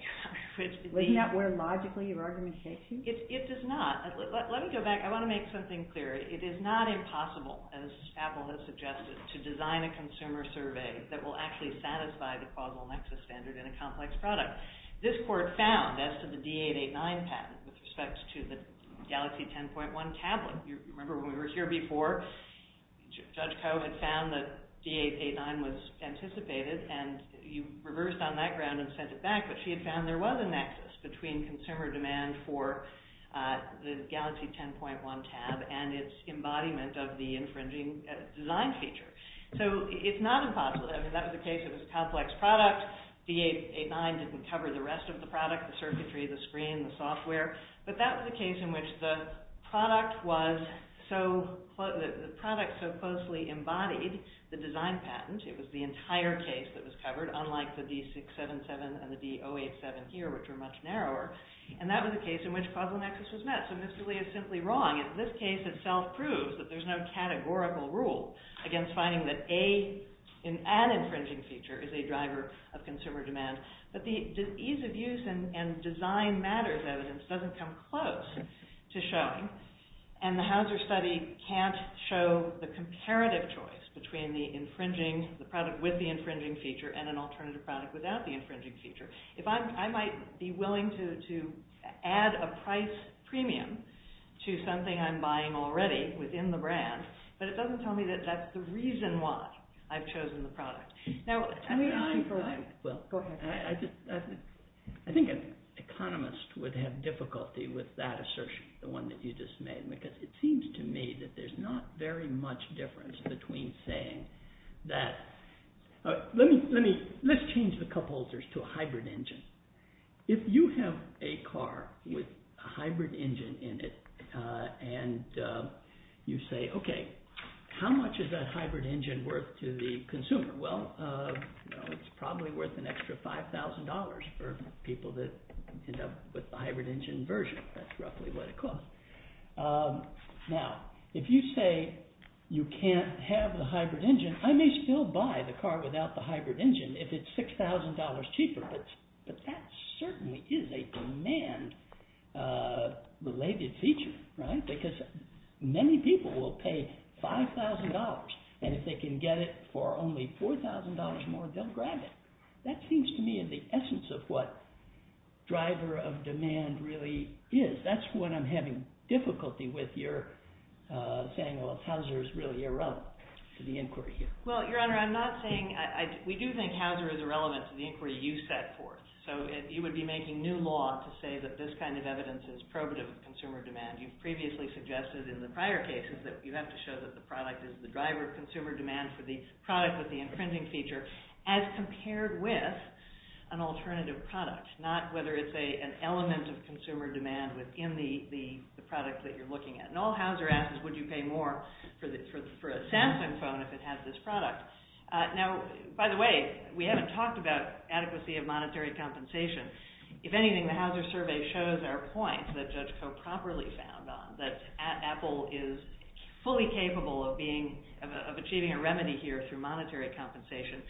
does that work logically in your argumentation? it does not, let me go back, I want to make something clear, it is not impossible as Apple has suggested to design a consumer survey that will actually satisfy the causal nexus standard in a complex product, this court found as to the D889 patent with respect to the Galaxy 10.1 tablet remember when we were here before Judge Coe had found that D889 was anticipated and you reversed on that ground and sent it back but she had found there was a nexus between consumer demand for the Galaxy 10.1 tab and its embodiment of the infringing design feature so it's not impossible that's the case of a complex product D889 didn't cover the rest of the product, the circuitry, the screen the software, but that was the case in which the product was so closely embodied the design patent, it was the entire case that was covered, unlike the D677 and the D087 here, which are much narrower, and that was the case in which causal nexus was met, so Mr. Lee is simply wrong this case itself proves that there's no categorical rule against finding that an infringing feature is a driver of consumer demand, but the ease of use and design matters evidence doesn't come close to showing, and the Hauser study can't show the comparative choice between the infringing the product with the infringing feature and an alternative product without the infringing feature if I might be willing to add a price premium to something I'm buying already, within the brand but it doesn't tell me that that's the reason why I've chosen the product now, I mean, I'm well, I just I think an economist would have difficulty with that assertion the one that you just made, because it seems to me that there's not very much difference between saying that let's change the cupholders to a hybrid engine if you have a car with a hybrid engine in it, and you say, ok how much is that hybrid engine worth to the consumer, well it's probably worth an extra $5,000 for people that end up with the hybrid engine version that's roughly what it costs now, if you say you can't have the hybrid engine, I may still buy the car without the hybrid engine if it's $6,000 cheaper, but that certainly is a demand related feature, right, because many people will pay $5,000 and if they can get it for only $4,000 more they'll grab it, that seems to me the essence of what driver of demand really is that's what I'm having difficulty with your saying if Hauser is really irrelevant to the inquiry here. Well, your honor, I'm not saying we do think Hauser is irrelevant to the inquiry you set forth, so you would be making new law to say that this kind of evidence is probative of consumer demand you've previously suggested in the prior cases that you have to show that the product is the driver of consumer demand for the product with the imprinting feature as compared with an alternative product, not whether it's an element of consumer demand within the product that you're looking at, and all Hauser asks is would you pay more for a Samsung phone if it has this product. Now by the way, we haven't talked about adequacy of monetary compensation if anything, the Hauser survey shows our point that Judge Koch properly found on, that Apple is fully capable of being of achieving a remedy here through monetary compensation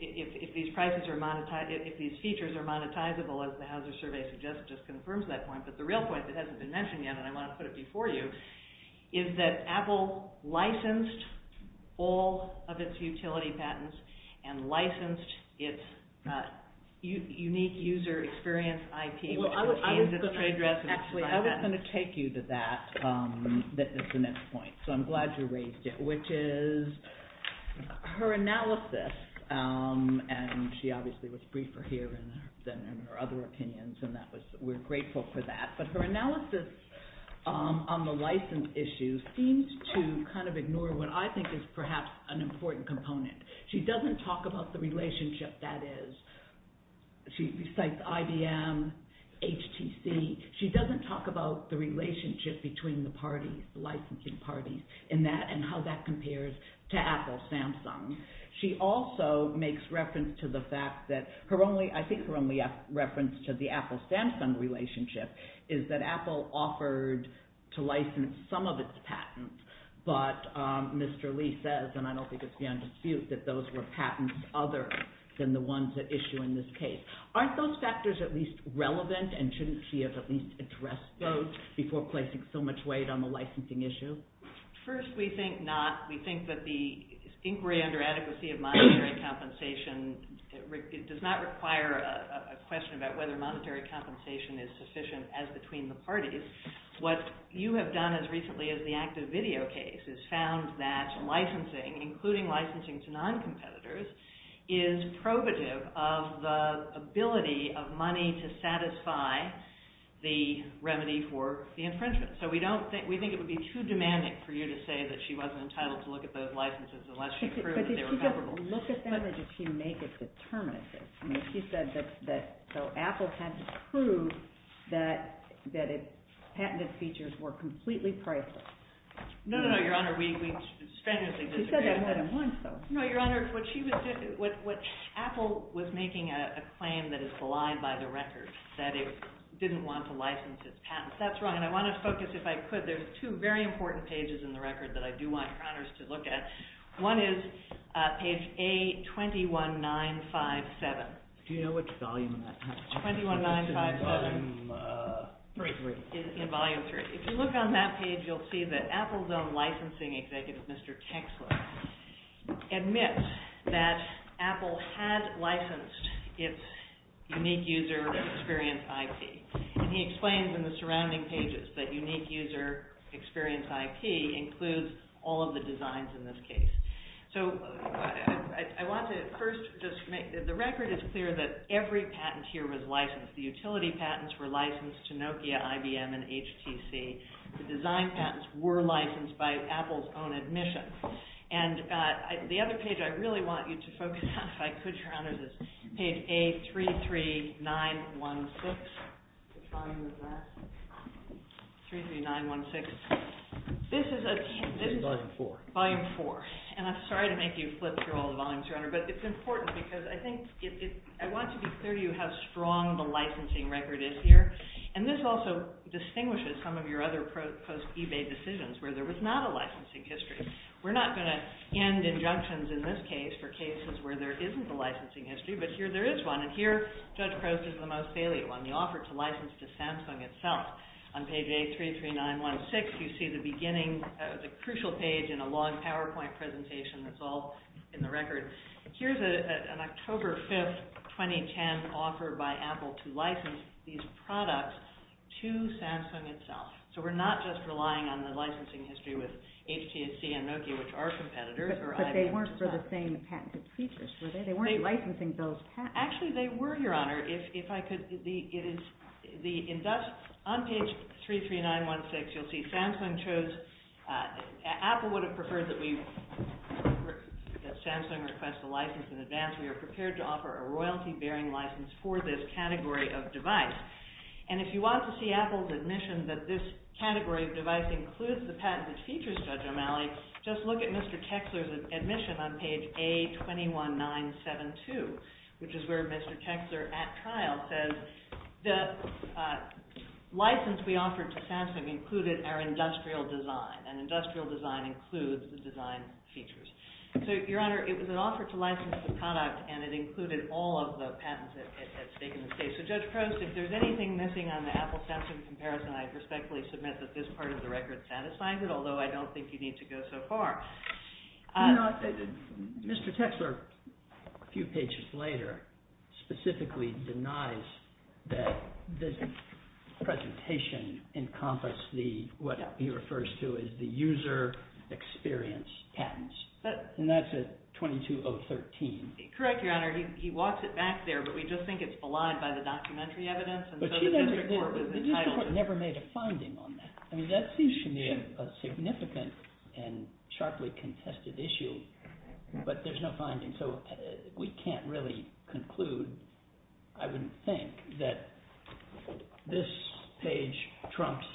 if these prices are monetized if these features are monetizable as the Hauser survey just confirms that point but the real point that hasn't been mentioned yet, and I want to put it before you, is that Apple licensed all of its utility patents and licensed its unique user experience IP I was going to take you to that as the next point, so I'm glad you raised it, which is her analysis and she obviously was briefer here than in her other opinions, and we're grateful for that, but her analysis on the license issues seems to kind of ignore what I think is perhaps an important component she doesn't talk about the relationship that is she cites IBM HTC, she doesn't talk about the relationship between the parties, the licensing parties and how that compares to Apple Samsung, she also makes reference to the fact that her only, I think her only reference to the Apple Samsung relationship is that Apple offered to license some of its patents but Mr. Lee says, and I don't think it's beyond dispute that those were patents other than the ones at issue in this case aren't those factors at least relevant and shouldn't she have at least addressed those before placing so much weight on the licensing issues? First we think not, we think that the inquiry under adequacy of monetary compensation does not require a question about whether monetary compensation is sufficient as between the parties, what you have done as recently as the active video case is found that licensing, including licensing to non-competitors, is probative of the ability of money to satisfy the remedy for the infringement, so we don't think we think it would be too demanding for you to say that she wasn't entitled to look at those licenses unless she proved they were comparable. But if she doesn't look at them, does she make a determination? I mean, she said that Apple had to prove that its patented features were completely priceless. No, no, no, Your Honor, we strenuously disagree. She said that more than once though. No, Your Honor, what she was saying Apple was making a claim that it's blind by the record, that it didn't want to license its patents. That's wrong, and I want to focus, if I could, there's two very important pages in the record that I do want Congress to look at. One is page A 21957. Do you know which volume that is? 21957. Volume 3. If you look on that page, you'll see that Apple's own licensing executive, Mr. Texler, admits that Apple had licensed its unique user experience IP. And he explains in the surrounding pages that unique user experience IP includes all of the designs in this case. So, I want to first just make that the record is clear that every patent here was licensed. The utility patents were licensed to Nokia, IBM, and HTC. The design patents were licensed by Apple's own admission. And the other page I really want you to focus on, if I could, Your Honor, is page A 33916. Which volume is that? 33916. This is a... Volume 4. And I'm sorry to make you flip through all the volumes, Your Honor, but it's important because I think I want to be clear to you how strong the licensing record is here. And this also distinguishes some of your other post-eBay decisions where there was not a licensing history. We're not going to end injunctions in this case for cases where there isn't a licensing history, but here there is one. And here, Judge Croce is the most salient one. The offer to license to Samsung itself. On page A33916 you see the beginning, the crucial page in a long PowerPoint presentation that's all in the record. Here's an October 5th 2010 offer by Apple to license these products to Samsung itself. So we're not just relying on the licensing history with HTC and Nokia which are competitors. But they weren't still the same patent features, were they? They weren't licensing those patents. Actually they were, Your Honor. If I could, on page 33916 you'll see Samsung chose Apple would have preferred that Samsung request the license in advance. We are prepared to offer a royalty-bearing license for this category of device. And if you want to see Apple's admission that this category of device includes the patent that features Judge O'Malley, just look at Mr. Chexler's admission on page A21972 which is where Mr. Chexler, at trial, says that the license we offered to Samsung included our industrial design. And industrial design includes the design features. So, Your Honor, it was an offer to license the product and it included all of the patents that had taken place. So Judge Croce, if there's anything missing on the Apple-Samsung comparison, I respectfully submit that this is what I think you need to go so far. Mr. Chexler, a few pages later, specifically denies that this presentation encompassed what he refers to as the user experience patents. And that's at 22013. Correct, Your Honor. He walks it back there, but we just think it's belied by the documentary evidence. We never made a finding on that. I mean, that seems to me a significant and sharply contested issue, but there's no finding. So, we can't really conclude, I would think, that this page trumps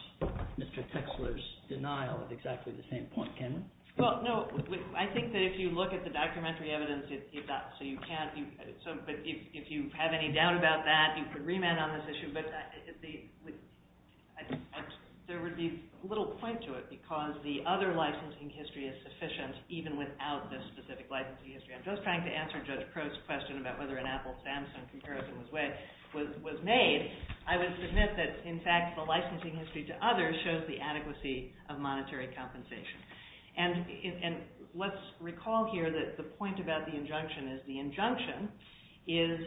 Mr. Chexler's denial at exactly the same point, can it? Well, no. I think that if you look at the documentary evidence, it's not so you can't... If you have any doubt about that, you could remand on this issue, but there would be little point to it because the other licensing history is sufficient even without this specific licensing history. I'm just trying to answer Judge Crow's question about whether an Apple-Samsung comparison was made. I would submit that, in fact, the licensing history to others shows the adequacy of monetary compensation. And let's recall here that the point about the injunction is the injunction is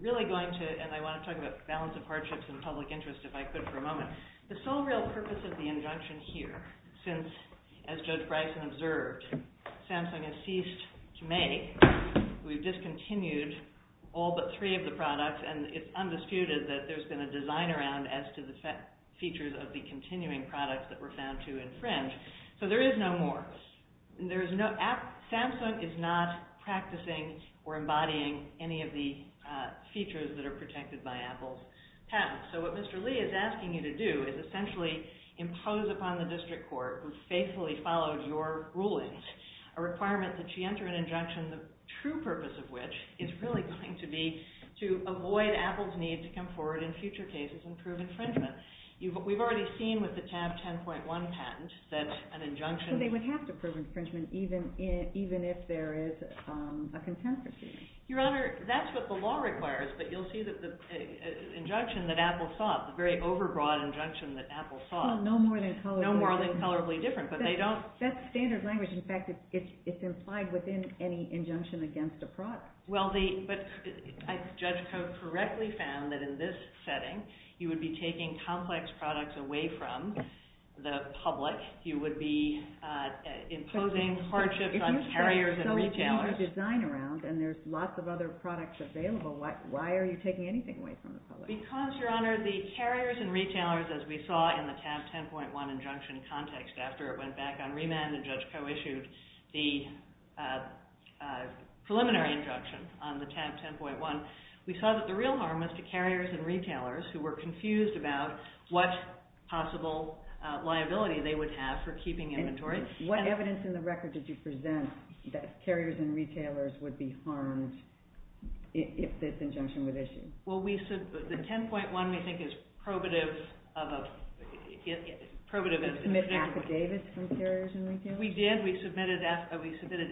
really going to, and I want to talk about balance of hardships and public interest if I could for a moment. The sole real purpose of the injunction here since, as Judge Bryson observed, Samsung has ceased to make, we've discontinued all but three of the products, and it's undisputed that there's been a design around as to the features of the continuing products that were found to infringe. So, there is no more. Samsung is not practicing or embodying any of the features that are protected by Apple's patents. So, what Mr. Lee is asking you to do is essentially impose upon the district court, who faithfully follows your rulings, a requirement that you enter an injunction, the true purpose of which is really going to be to avoid Apple's need to come forward in future cases and prove infringement. We've already seen with the tab 10.1 patent that an injunction... So, they would have to prove infringement even if there is a contemporary. Your Honor, that's what the law requires, but you'll see that the injunction that Apple sought, the very overbroad injunction that Apple sought... No more than colorably different, but they don't... That standard language, in fact, it's implied within any injunction against a product. Well, the... Judge Coates correctly found that in this setting, you would be taking complex products away from the public. You would be imposing hardship on carriers and retailers. And there's lots of other products available. Why are you taking anything away from the public? Because, Your Honor, the carriers and retailers, as we saw in the tab 10.1 injunction context after it went back on remand and Judge Coates issued the preliminary injunction on the tab 10.1, we saw that the real harm was to carriers and retailers who were confused about what possible liability they would have for keeping inventory. And what evidence in the record did you present that carriers and retailers would be harmed if this injunction was issued? Well, we... The 10.1, we think, is probative of a... It's probative of... Did you submit affidavits from carriers and retailers? We did. We submitted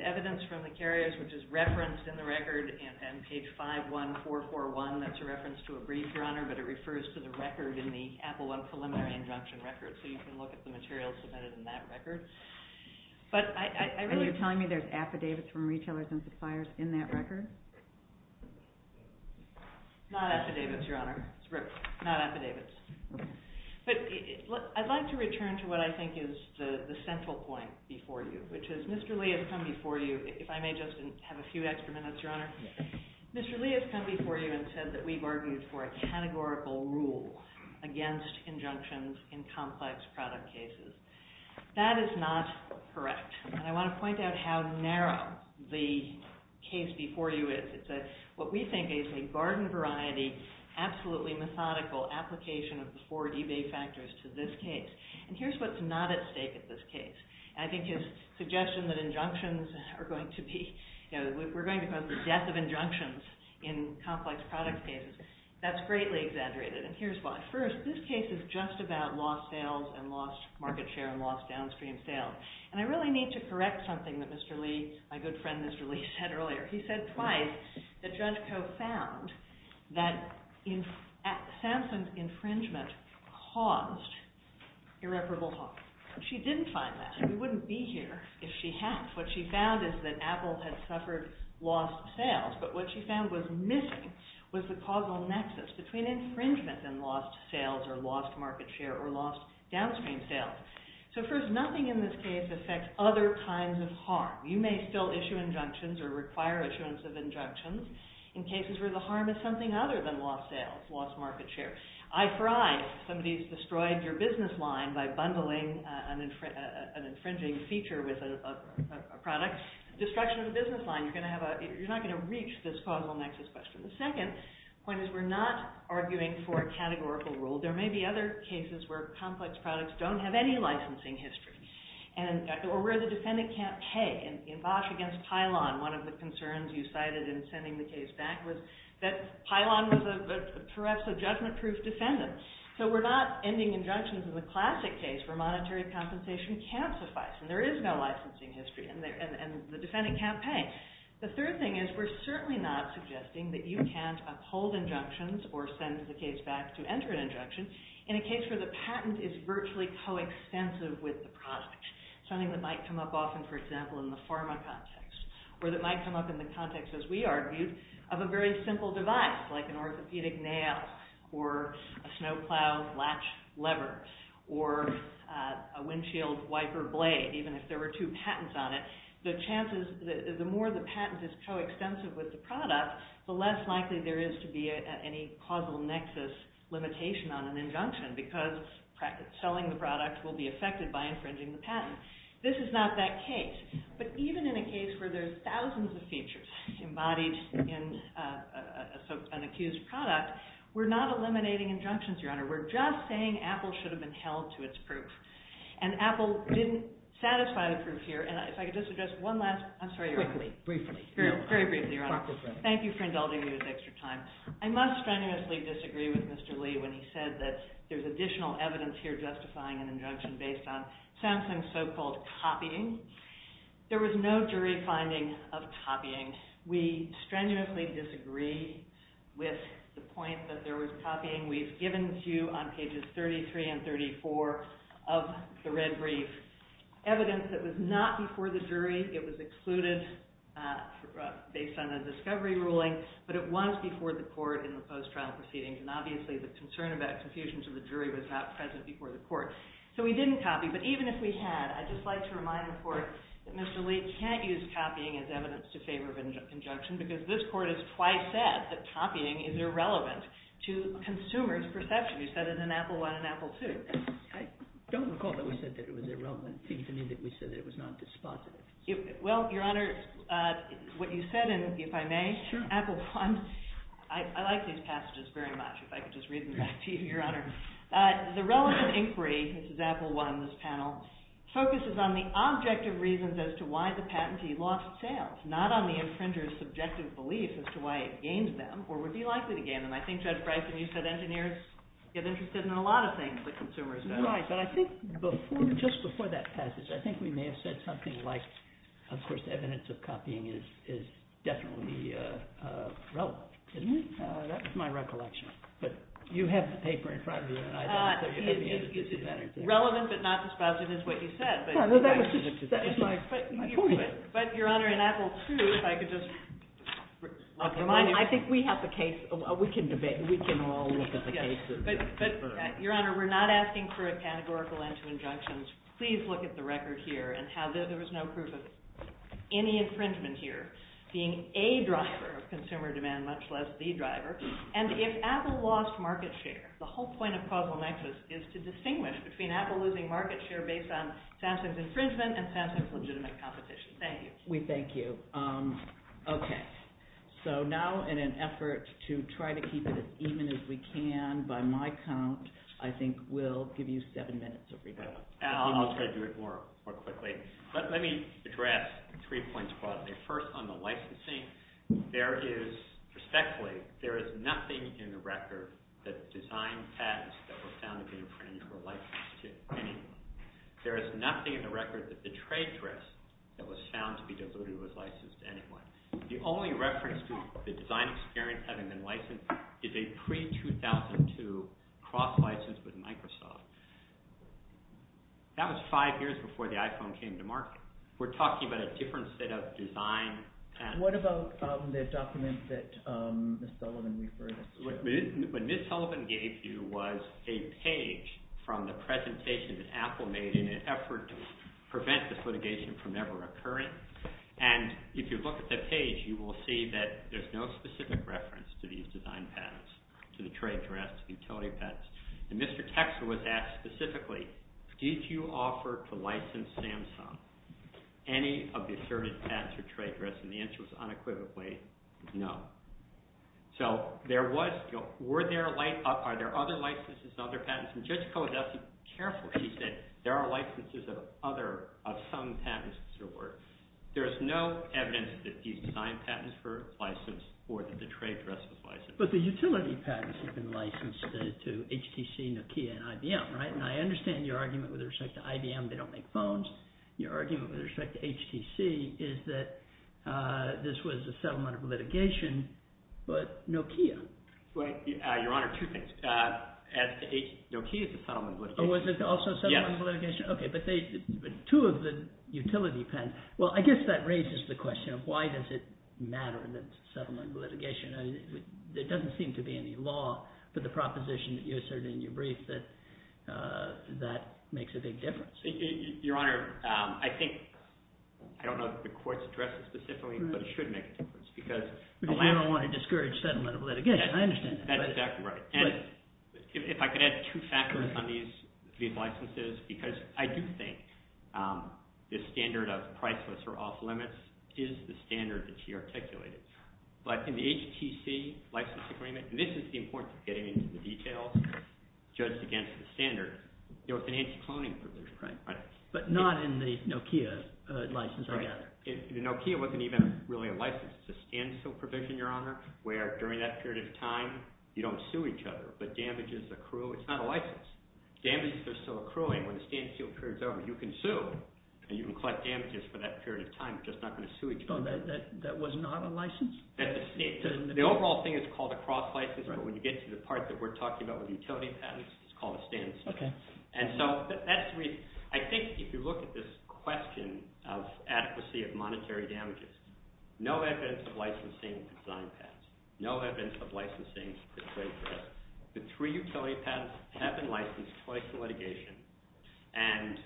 evidence from the carriers, which is referenced in the record in page 51441. That's a reference to a brief, Your Honor, but it refers to the record in the Apple web preliminary injunction record. So you can look at the materials submitted in that record. But I really... And you're telling me there's affidavits from retailers and suppliers in that record? Not affidavits, Your Honor. Not affidavits. But I'd like to return to what I think is the central point before you, which is Mr. Lee has come before you, if I may just have a few extra minutes, Your Honor. Mr. Lee has come before you and said that we argued for a categorical rule against injunctions in complex product cases. That is not correct. And I want to point out how narrow the case before you is. It's what we think is a garden-variety, absolutely methodical application of the four debate factors to this case. And here's what's not at stake in this case. I think his suggestion that injunctions are going to be... We're going to come to death of injunctions in complex product cases. That's greatly exaggerated. And here's why. First, this case is just about lost sales and lost market share and lost downstream sales. And I really need to correct something that Mr. Lee, my good friend Mr. Lee, said earlier. He said twice that Judge Koch found that Samson's infringement caused irreparable harm. She didn't find that. He wouldn't be here if she hadn't. What she found is that Apple had suffered lost sales, but what she found was a causal nexus between infringement and lost sales or lost market share or lost downstream sales. So first, nothing in this case affects other kinds of harm. You may still issue injunctions or require issuance of injunctions in cases where the harm is something other than lost market share. Eye for eye, if somebody's destroyed your business line by bundling an infringing feature with a product, destruction of the business line, you're not going to reach this causal nexus. But the second point is we're not arguing for a categorical rule. There may be other cases where complex products don't have any licensing history. Or where the defendant can't pay. In Bosch against Pilon, one of the concerns you cited in sending the case back was that Pilon was a perhaps a judgment-proof defendant. So we're not ending injunctions in the classic case where monetary compensation can't suffice and there is no licensing history and the defendant can't pay. The third thing is we're certainly not suggesting that you can't uphold injunctions or send the case back to enter an injunction in a case where the patent is virtually co-extensive with the product. Something that might come up often, for example, in the pharma context. Or that might come up in the context, as we argued, of a very simple device, like an orthopedic nail or a snowplow latch lever or a windshield wiper blade, even if there were two patents on it, the chances, the more the patent is co-extensive with the product, the less likely there is to be any causal nexus limitation on an injunction because selling the product will be affected by infringing the patent. This is not that case. But even in a case where there are thousands of features embodied in an accused product, we're not eliminating injunctions, Your Honor. We're just saying Apple should have been held to its proof. And Apple didn't satisfy the proof here. And if I could just address one last... I'm sorry, Your Honor. Briefly. Very briefly, Your Honor. Thank you for indulging me with extra time. I must strenuously disagree with Mr. Lee when he said that there's additional evidence here justifying an injunction based on Samsung's so-called copying. There was no jury finding of copying. We strenuously disagree with the point that there was copying. We've given to you on pages 33 and 34 of the red brief evidence that was not before the jury. It was excluded based on a discovery ruling. But it was before the court in the post-trial proceeding. And obviously the concern about confusion to the jury was not present before the court. So we didn't copy. But even if we had, I'd just like to remind the court that Mr. Lee can't use copying as evidence to favor an injunction because this court has twice said that copying is irrelevant to consumers' perceptions. You said it in Apple I and Apple II. I don't recall that we said that it was irrelevant. It seems to me that we said it was not dispositive. Well, Your Honor, what you said in, if I may, Apple I, I like these passages very much. If I could just read them back to you, Your Honor. The relevant inquiry, which is Apple I in this panel, focuses on the objective reasons as to why the patentee lost sales, not on the offender's subjective beliefs as to why it gains them or would be likely to gain them. I think that's right when you said engineers get interested in a lot of things that consumers don't. Right, but I think just before that passage, I think we may have said something like, of course, the evidence of copying is definitely relevant. That was my recollection. You have the paper in front of you. It's relevant but not dispositive is what you said. That was just my point. But, Your Honor, in Apple II, if I could just... I think we have the case. We can all look at the case. But, Your Honor, we're not asking for a categorical end to injunctions. Please look at the record here and how there was no proof of any infringement here being a driver of consumer demand, much less the driver. And if Apple lost market share, the whole point of Puzzle Nexus is to distinguish between Apple losing market share based on Samsung's infringement and Samsung's legitimate competition. Thank you. We thank you. Okay. So now, in an effort to try to keep it as even as we can by my count, I think we'll give you seven minutes. I'll try to do it more quickly. Let me address 3.12. First, on the licensing, respectfully, there is nothing in the record that designed ads that were found to be infringed were licensed to anyone. There is nothing in the record that betrayed risk that was found to be licensed to anyone. The only reference to the design experience having been licensed is a pre-2002 cross-license with Microsoft. That was five years before the iPhone came to market. We're talking about a different set of design patterns. What about the document that Ms. Sullivan referred to? What Ms. Sullivan gave you was a page from the presentation that Apple made in an effort to prevent tax litigation from ever occurring. If you look at that page, you will see that there's no specific reference to these design patterns, to the trade dress, to the utility patents. Mr. Texel was asked specifically, did you offer to license Samsung any of the asserted patents or trade dress? The answer was unequivocally no. Were there other licenses and other patents? Just go with that carefully. There are licenses of some patents. There's no evidence that these design patents were licensed or the trade dress was licensed. But the utility patents have been licensed to HTC, Nokia, and IBM. I understand your argument with respect to IBM, they don't make phones. Your argument with respect to HTC is that this was a settlement of litigation, but Nokia? Your Honor, two things. Nokia is a settlement of litigation. Oh, was it also a settlement of litigation? Okay, but two of the utility patents, well, I guess that raises the question of why does it matter that it's a settlement of litigation? There doesn't seem to be any law for the proposition that you asserted in your brief that makes a big difference. Your Honor, I think I don't know if the Court's addressed this specifically, but it should make a difference. Because you don't want to discourage settlement of litigation. That's exactly right. If I could add two factors on these licenses, because I do think the standard of priceless or off-limits is the standard that you articulated. But in the HTC license agreement, and this is the importance of getting into the details, just against the standard, there was an anti-cloning provision. But not in the Nokia license agreement. Nokia wasn't even really a license to scan and steal provision, Your Honor, where during that period of time, you don't sue each other, but damages accrue. It's not a license. Damages are still accruing when the stand-and-steal period's over. You can sue and you can collect damages for that period of time. You're just not going to sue each other. So that was not a license? The overall thing is called a cross-license. When you get to the part that we're talking about with the utility patents, it's called a stand-and-steal. And so, actually, I think if you look at this question of adequacy of monetary damages, no evidence of licensing design patents. No evidence of licensing the trade fair. The three utility patents have been licensed twice in litigation, and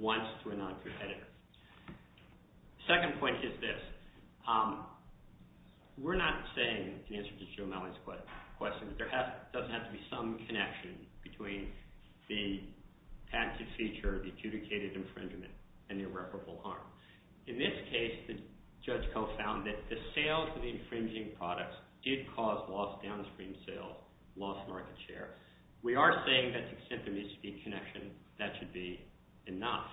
once to a non-competitor. Second point is this. We're not saying, in answer to Jill Mellon's question, that there doesn't have to be some connection between the patent-to-feature adjudicated infringement and irreparable harm. In this case, Judge Koh found that the sales of the infringing products did cause lost downstream sales, lost market share. We are saying that to simply speak connection, that should be enough.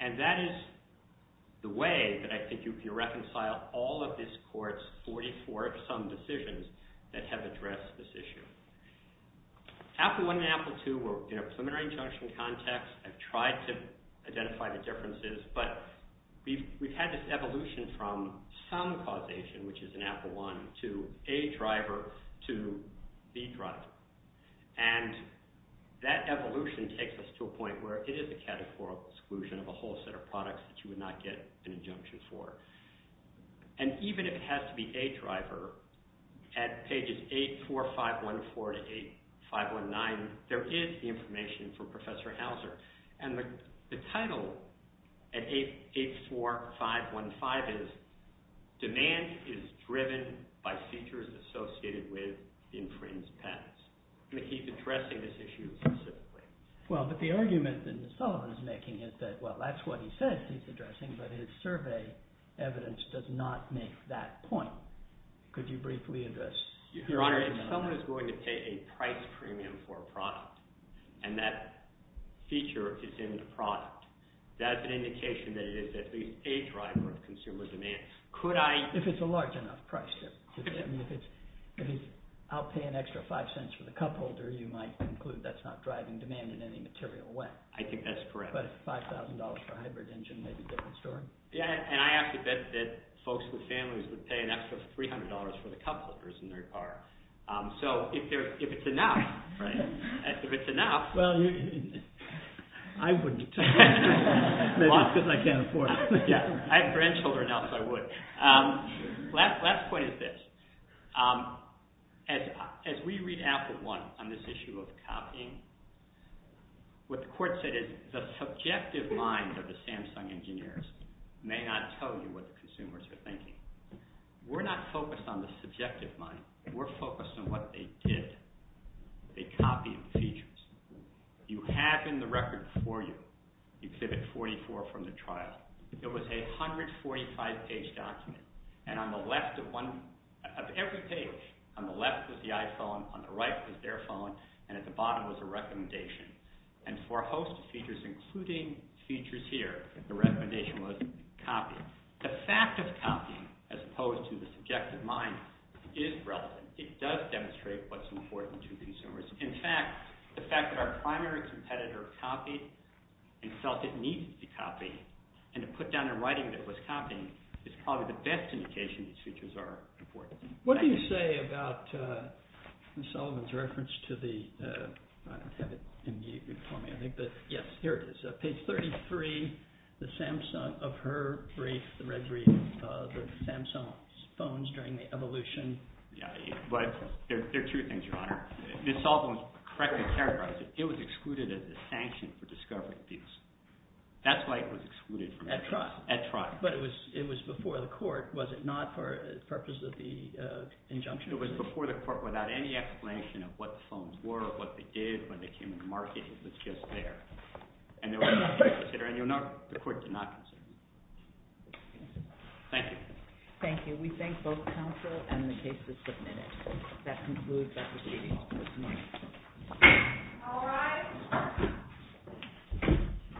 And that is the way that I think you can reconcile all of this Court's 44-some decisions that have addressed this issue. After one and after two were in a preliminary injunction context and tried to we've had this evolution from some causation, which is an Apple I, to A driver to B driver. And that evolution takes us to a point where it is a categorical exclusion of a whole set of products that you would not get an injunction for. And even if it has to be A driver, at pages 8, 4, 5, 1, 4 to 8, 5, 1, 9, there is the information from Professor Hauser. And the 8, 4, 5, 1, 5 is demand is driven by features associated with infringed patents. I'm going to keep addressing this issue specifically. Well, but the argument that Mr. Seller is making is that, well, that's what he said he's addressing, but his survey evidence does not make that point. Could you briefly address? Your Honor, if someone is going to pay a price premium for a product, and that feature is in the product, that's an indication that it is at least A driver of consumer demand. Could I... If it's a large enough price, I mean, if it's I'll pay an extra five cents for the cup holder, you might conclude that's not driving demand in any material way. I think that's correct. But if $5,000 for a hybrid engine maybe they're concerned. Yeah, and I have to bet that folks and families would pay an extra $300 for the cup holders in their car. So, if it's enough, if it's enough... Well, I wouldn't. Because I can't afford it. I have grandchildren, so I would. Last point is this. As we read after one on this issue of copying, what the court said is the subjective mind of the Samsung engineers may not tell you what the consumers are thinking. We're not focused on the subjective mind. We're focused on what they did. They copied the features. You have in the record for you Exhibit 44 from the trial. It was a 145 page document. And on the left of every page, on the left was the iPhone, on the right was their phone, and at the bottom was a recommendation. And for host features, including features here, the recommendation was copy. The fact of copying as opposed to the subjective mind is relevant. It does demonstrate what's important to consumers. In fact, the fact that our primary competitor copied and felt it needed to be copied and it put down in writing that it was copying is probably the best indication that features are important. What do you say about Ms. Sullivan's reference to the page 33 of her brief, the Samsung phones during the evolution? There are two things, Your Honor. Ms. Sullivan correctly characterized it. It was excluded as a sanction for discovery of these. That's why it was excluded. At trial? At trial. But it was before the court, was it not, for the purpose of the injunction? It was before the court, without any explanation of what the phones were or what they did when they came into market. It was just there. And there was no consideration. The court did not consider it. Thank you. Thank you. We thank both counsel and the cases submitted. That concludes the hearing. All rise.